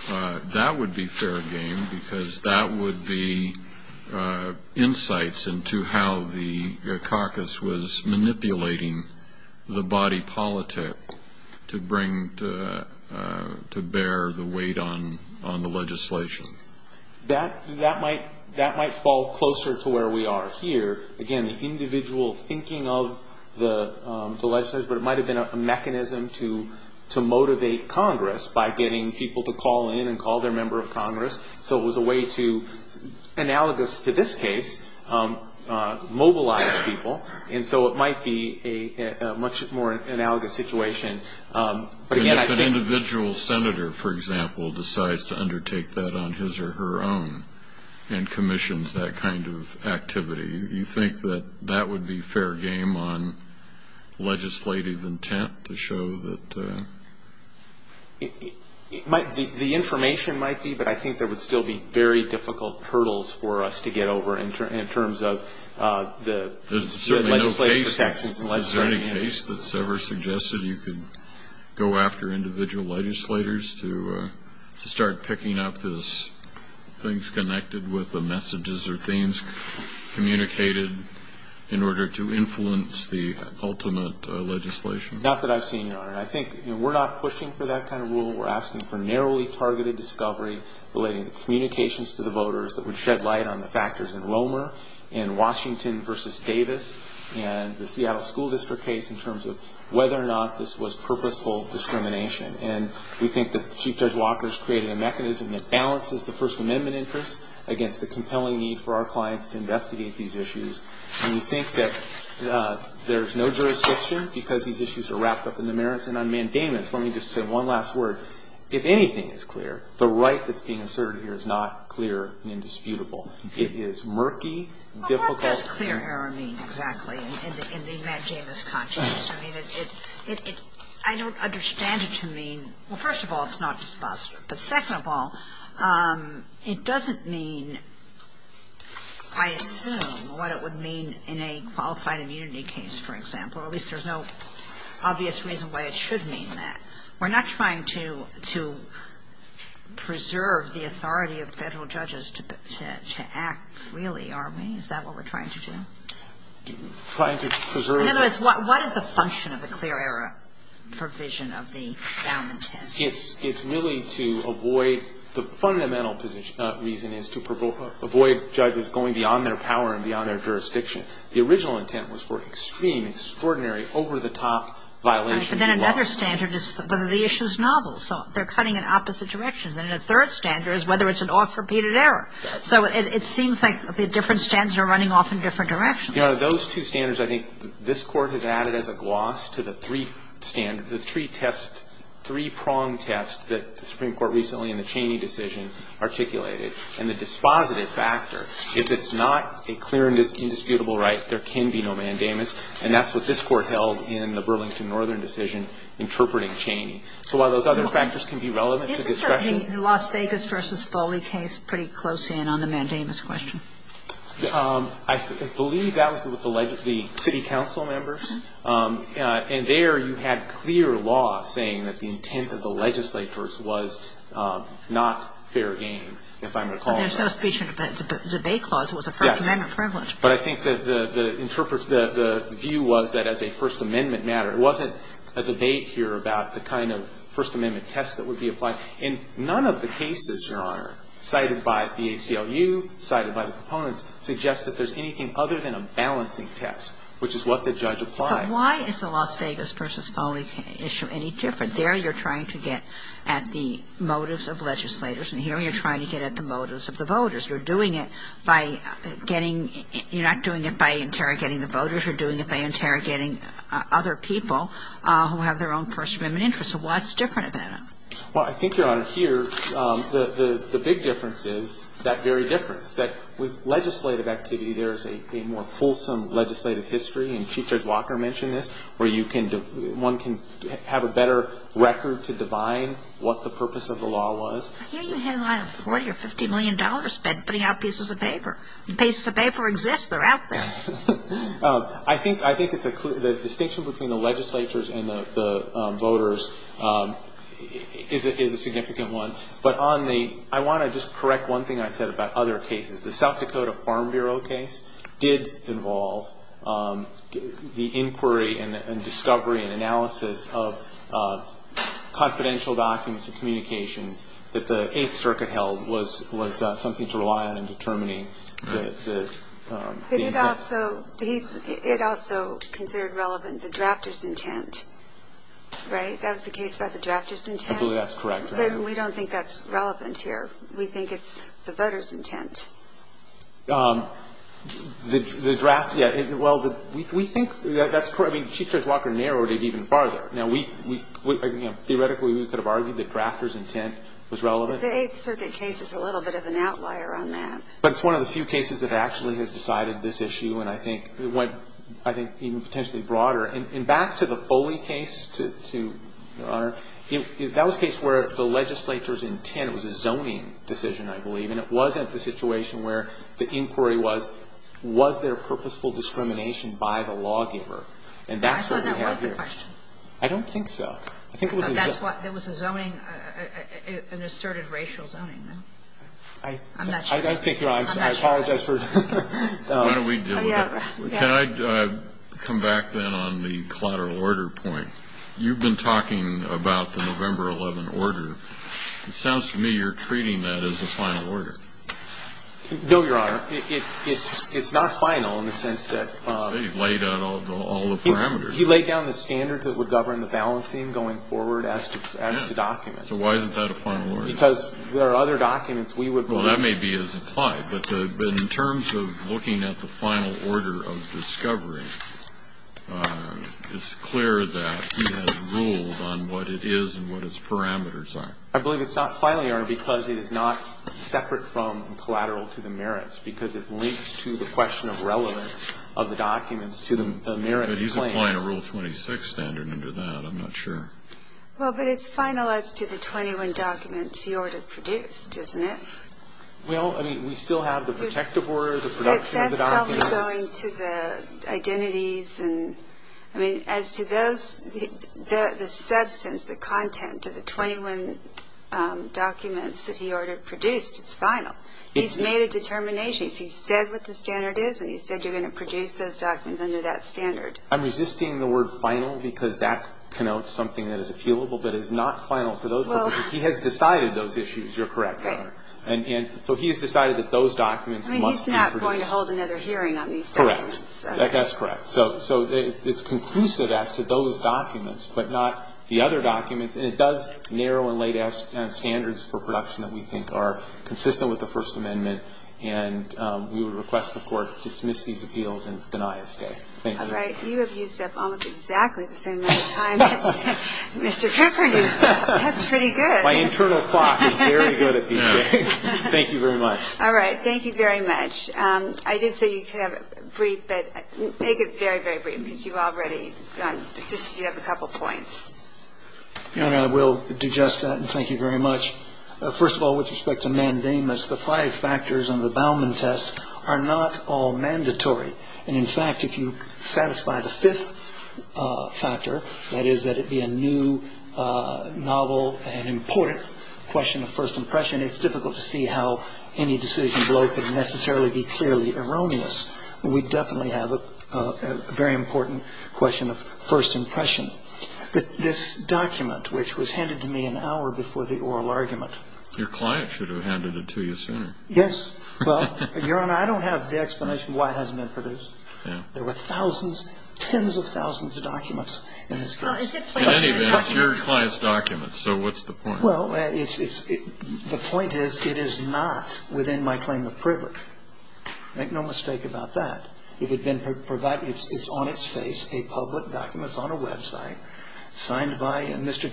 that would be fair game because that would be insights into how the caucus was manipulating the body politic to bear the weight on the legislation. That might fall closer to where we are here. Again, the individual thinking of the legislator, but it might have been a mechanism to motivate Congress by getting people to call in and call their member of Congress. So it was a way to, analogous to this case, mobilize people. So it might be a much more analogous situation. If an individual senator, for example, decides to undertake that on his or her own and commissions that kind of activity, you think that that would be fair game on legislative intent to show that? The information might be, but I think there would still be very difficult hurdles for us to get over in terms of the legislation. Is there any case that's ever suggested you could go after individual legislators to start picking up those things connected with the messages or things communicated in order to influence the ultimate legislation? Not that I've seen none. I think we're not pushing for that kind of rule. We're asking for narrowly targeted discovery relating to communications to the voters that would shed light on the factors in Wilmer, in Washington versus Davis, and the Seattle School District case in terms of whether or not this was purposeful discrimination. And we think that Chief Judge Walker's created a mechanism that balances the First Amendment interest against the compelling need for our clients to investigate these issues. And we think that there's no jurisdiction because these issues are wrapped up in the merits. And on mandamus, let me just say one last word. If anything is clear, the right that's being asserted here is not clear and indisputable. It is murky, difficult. What does clear error mean exactly in the mandamus context? I don't understand it to mean, well, first of all, it's not disclosure. But second of all, it doesn't mean, I assume, what it would mean in a qualified immunity case, for example. At least there's no obvious reason why it should mean that. We're not trying to preserve the authority of federal judges to act freely, are we? Is that what we're trying to do? Trying to preserve? In other words, what is the function of the clear error provision of the found intent? It's really to avoid the fundamental reason is to avoid judges going beyond their power and beyond their jurisdiction. The original intent was for extreme, extraordinary, over-the-top violations. Then another standard is whether the issue is novel. So they're cutting in opposite directions. And a third standard is whether it's an off-repeated error. So it seems like the different standards are running off in different directions. You know, those two standards, I think, this Court has added as a gloss to the three tests, three-pronged tests that the Supreme Court recently in the Cheney decision articulated. And the dispositive factor, if it's not a clear and indisputable right, there can be no mandamus. And that's what this Court held in the Burlington Northern decision interpreting Cheney. So a lot of those other factors can be relevant to the discussion. Isn't the Las Vegas v. Foley case pretty close in on the mandamus question? I believe that was with the city council members. And there you had clear law saying that the intent of the legislatures was not fair game, if I recall. But there's no speech in the debate clause. It was a First Amendment privilege. But I think that the view was that as a First Amendment matter, it wasn't a debate here about the kind of First Amendment test that would be applied. And none of the cases, Your Honor, cited by the ACLU, cited by the proponents, suggest that there's anything other than a balancing test, which is what the judge applied. But why is the Las Vegas v. Foley issue any different? There you're trying to get at the motives of legislators. And here you're trying to get at the motives of the voters. You're doing it by getting – you're not doing it by interrogating the voters. You're doing it by interrogating other people who have their own First Amendment interests. So what's different about it? Well, I think, Your Honor, here, the big difference is that very difference, that with legislative activity there's a more fulsome legislative history, and Chief Judge Walker mentioned this, where one can have a better record to define what the purpose of the law was. I hear you have 40 or $50 million spent putting out pieces of paper. The pieces of paper exist. They're out there. I think the distinction between the legislatures and the voters is a significant one. But I want to just correct one thing I said about other cases. The South Dakota Farm Bureau case did involve the inquiry and discovery and analysis of confidential documents and communications that the Eighth Circuit held was something to rely on in determining the intent. It also considered relevant the drafters' intent, right? That was the case about the drafters' intent? I believe that's correct, Your Honor. But we don't think that's relevant here. We think it's the voters' intent. The drafters' – well, we think that's correct. I mean, Chief Judge Walker narrowed it even farther. Theoretically, we could have argued the drafters' intent was relevant. The Eighth Circuit case is a little bit of an outlier on that. But it's one of the few cases that actually has decided this issue, and I think even potentially broader. And back to the Foley case, Your Honor, that was a case where the legislature's intent was a zoning decision, I believe, and it wasn't the situation where the inquiry was, was there purposeful discrimination by the lawgiver? I thought that was the question. I don't think so. There was a zoning, an asserted racial zoning. I'm not sure. I apologize for – Why don't we deal with it? Can I come back then on the collateral order point? You've been talking about the November 11 order. It sounds to me you're treating that as a final order. No, Your Honor. It's not final in the sense that – You've laid out all the parameters. He laid down the standards that would govern the balancing going forward as to documents. So why isn't that a final order? Because there are other documents we would – Well, that may be as implied, but in terms of looking at the final order of discovery, it's clear that he has rules on what it is and what its parameters are. I believe it's not final, Your Honor, because it is not separate from collateral to the merits, because it links to the question of relevance of the documents to the merits claim. But he's applying a Rule 26 standard into that. I'm not sure. Well, but it's final as to the 21 documents he ordered produced, isn't it? Well, I mean, we still have the protective order, the production of the documents. But that's probably going to the identities and – I mean, as to those – the substance, the content of the 21 documents that he ordered produced is final. He's made a determination. He said what the standard is, and he said you're going to produce those documents under that standard. I'm resisting the word final because that connotes something that is appealable, but it's not final to those documents. He has decided those issues. You're correct, Your Honor. And so he has decided that those documents must be produced. I mean, he's not going to hold another hearing on these documents. Correct. That's correct. So it's conclusive as to those documents, but not the other documents. And it does narrow and lay down standards for production that we think are consistent with the First Amendment. And we would request the Court dismiss these appeals and deny escape. Thank you. All right. You have used that almost exactly the same amount of time. Mr. Pepper, that's pretty good. My internal clock is very good at being here. Thank you very much. All right. Thank you very much. I did say you could have it brief, but take it very, very brief, because you've already done – you have a couple points. Your Honor, I will digest that, and thank you very much. First of all, with respect to mandamus, the five factors in the Bauman test are not all mandatory. And, in fact, if you satisfy the fifth factor, that is that it be a new, novel, and important question of first impression, it's difficult to see how any decision could necessarily be clearly erroneous. We definitely have a very important question of first impression. But this document, which was handed to me an hour before the oral argument. Your client should have handed it to you sooner. Yes. Well, Your Honor, I don't have the explanation why it hasn't been produced. There were thousands, tens of thousands of documents in this case. It's your client's document, so what's the point? Well, the point is it is not within my claim of privilege. Make no mistake about that. It's on its face, a public document on a website, signed by Mr.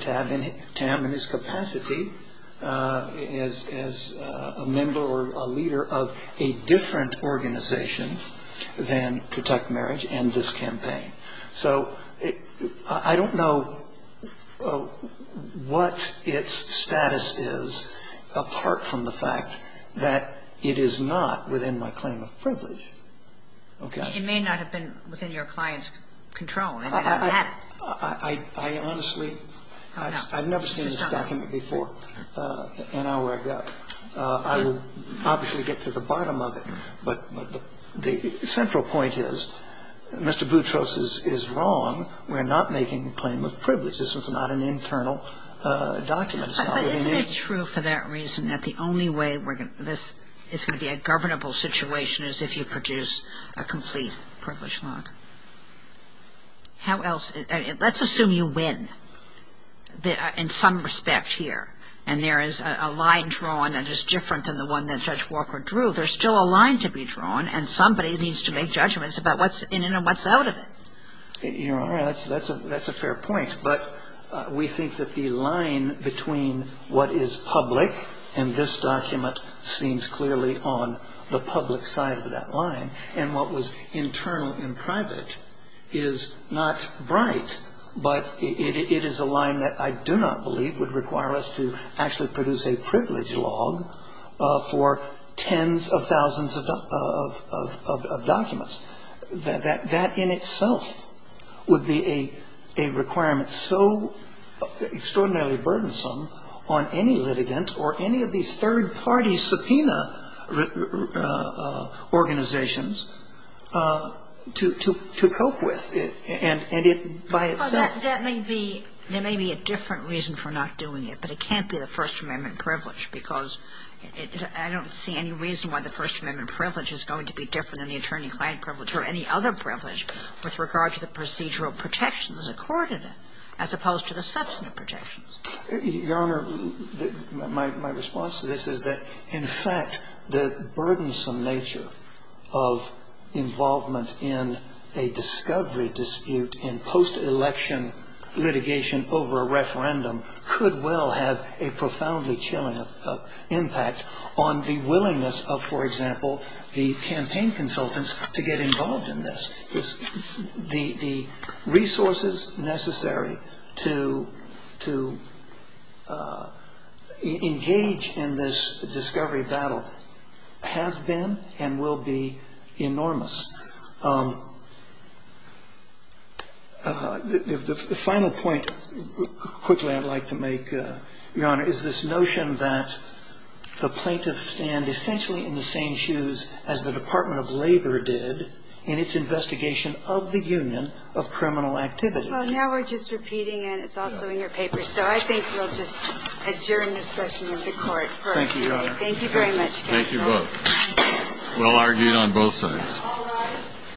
Tam in his capacity as a member or a leader of a different organization than Protect Marriage and this campaign. So, I don't know what its status is apart from the fact that it is not within my claim of privilege. Okay. It may not have been within your client's control. I honestly, I've never seen this document before an hour ago. I will obviously get to the bottom of it. But the central point is Mr. Boutros is wrong. We're not making a claim of privilege. This is not an internal document. It's true for that reason that the only way this is going to be a governable situation is if you produce a complete privilege law. How else? Let's assume you win in some respect here and there is a line drawn that is different than the one that Judge Walker drew. There's still a line to be drawn and somebody needs to make judgments about what's in and what's out of it. You're right. That's a fair point. But we think that the line between what is public and this document seems clearly on the public side of that line and what was internal and private is not bright. But it is a line that I do not believe would require us to actually produce a privilege law for tens of thousands of documents. That in itself would be a requirement so extraordinarily burdensome on any litigant or any of these third-party subpoena organizations to cope with. That may be a different reason for not doing it. But it can't be the First Amendment privilege because I don't see any reason why the First Amendment privilege is going to be different than the attorney-client privilege or any other privilege with regard to the procedural protections accorded it as opposed to the substantive protections. Your Honor, my response to this is that, in fact, the burdensome nature of involvement in a discovery dispute and post-election litigation over a referendum could well have a profoundly chilling impact on the willingness of, for example, the campaign consultants to get involved in this. The resources necessary to engage in this discovery battle have been and will be enormous. The final point quickly I'd like to make, Your Honor, is this notion that the plaintiffs stand essentially in the same shoes as the Department of Labor did in its investigation of the Union of Criminal Activities. Well, now we're just repeating, and it's also in your paper. So I think we'll just adjourn this session of the Court. Thank you, Your Honor. Thank you very much. Thank you both. We'll argue on both sides.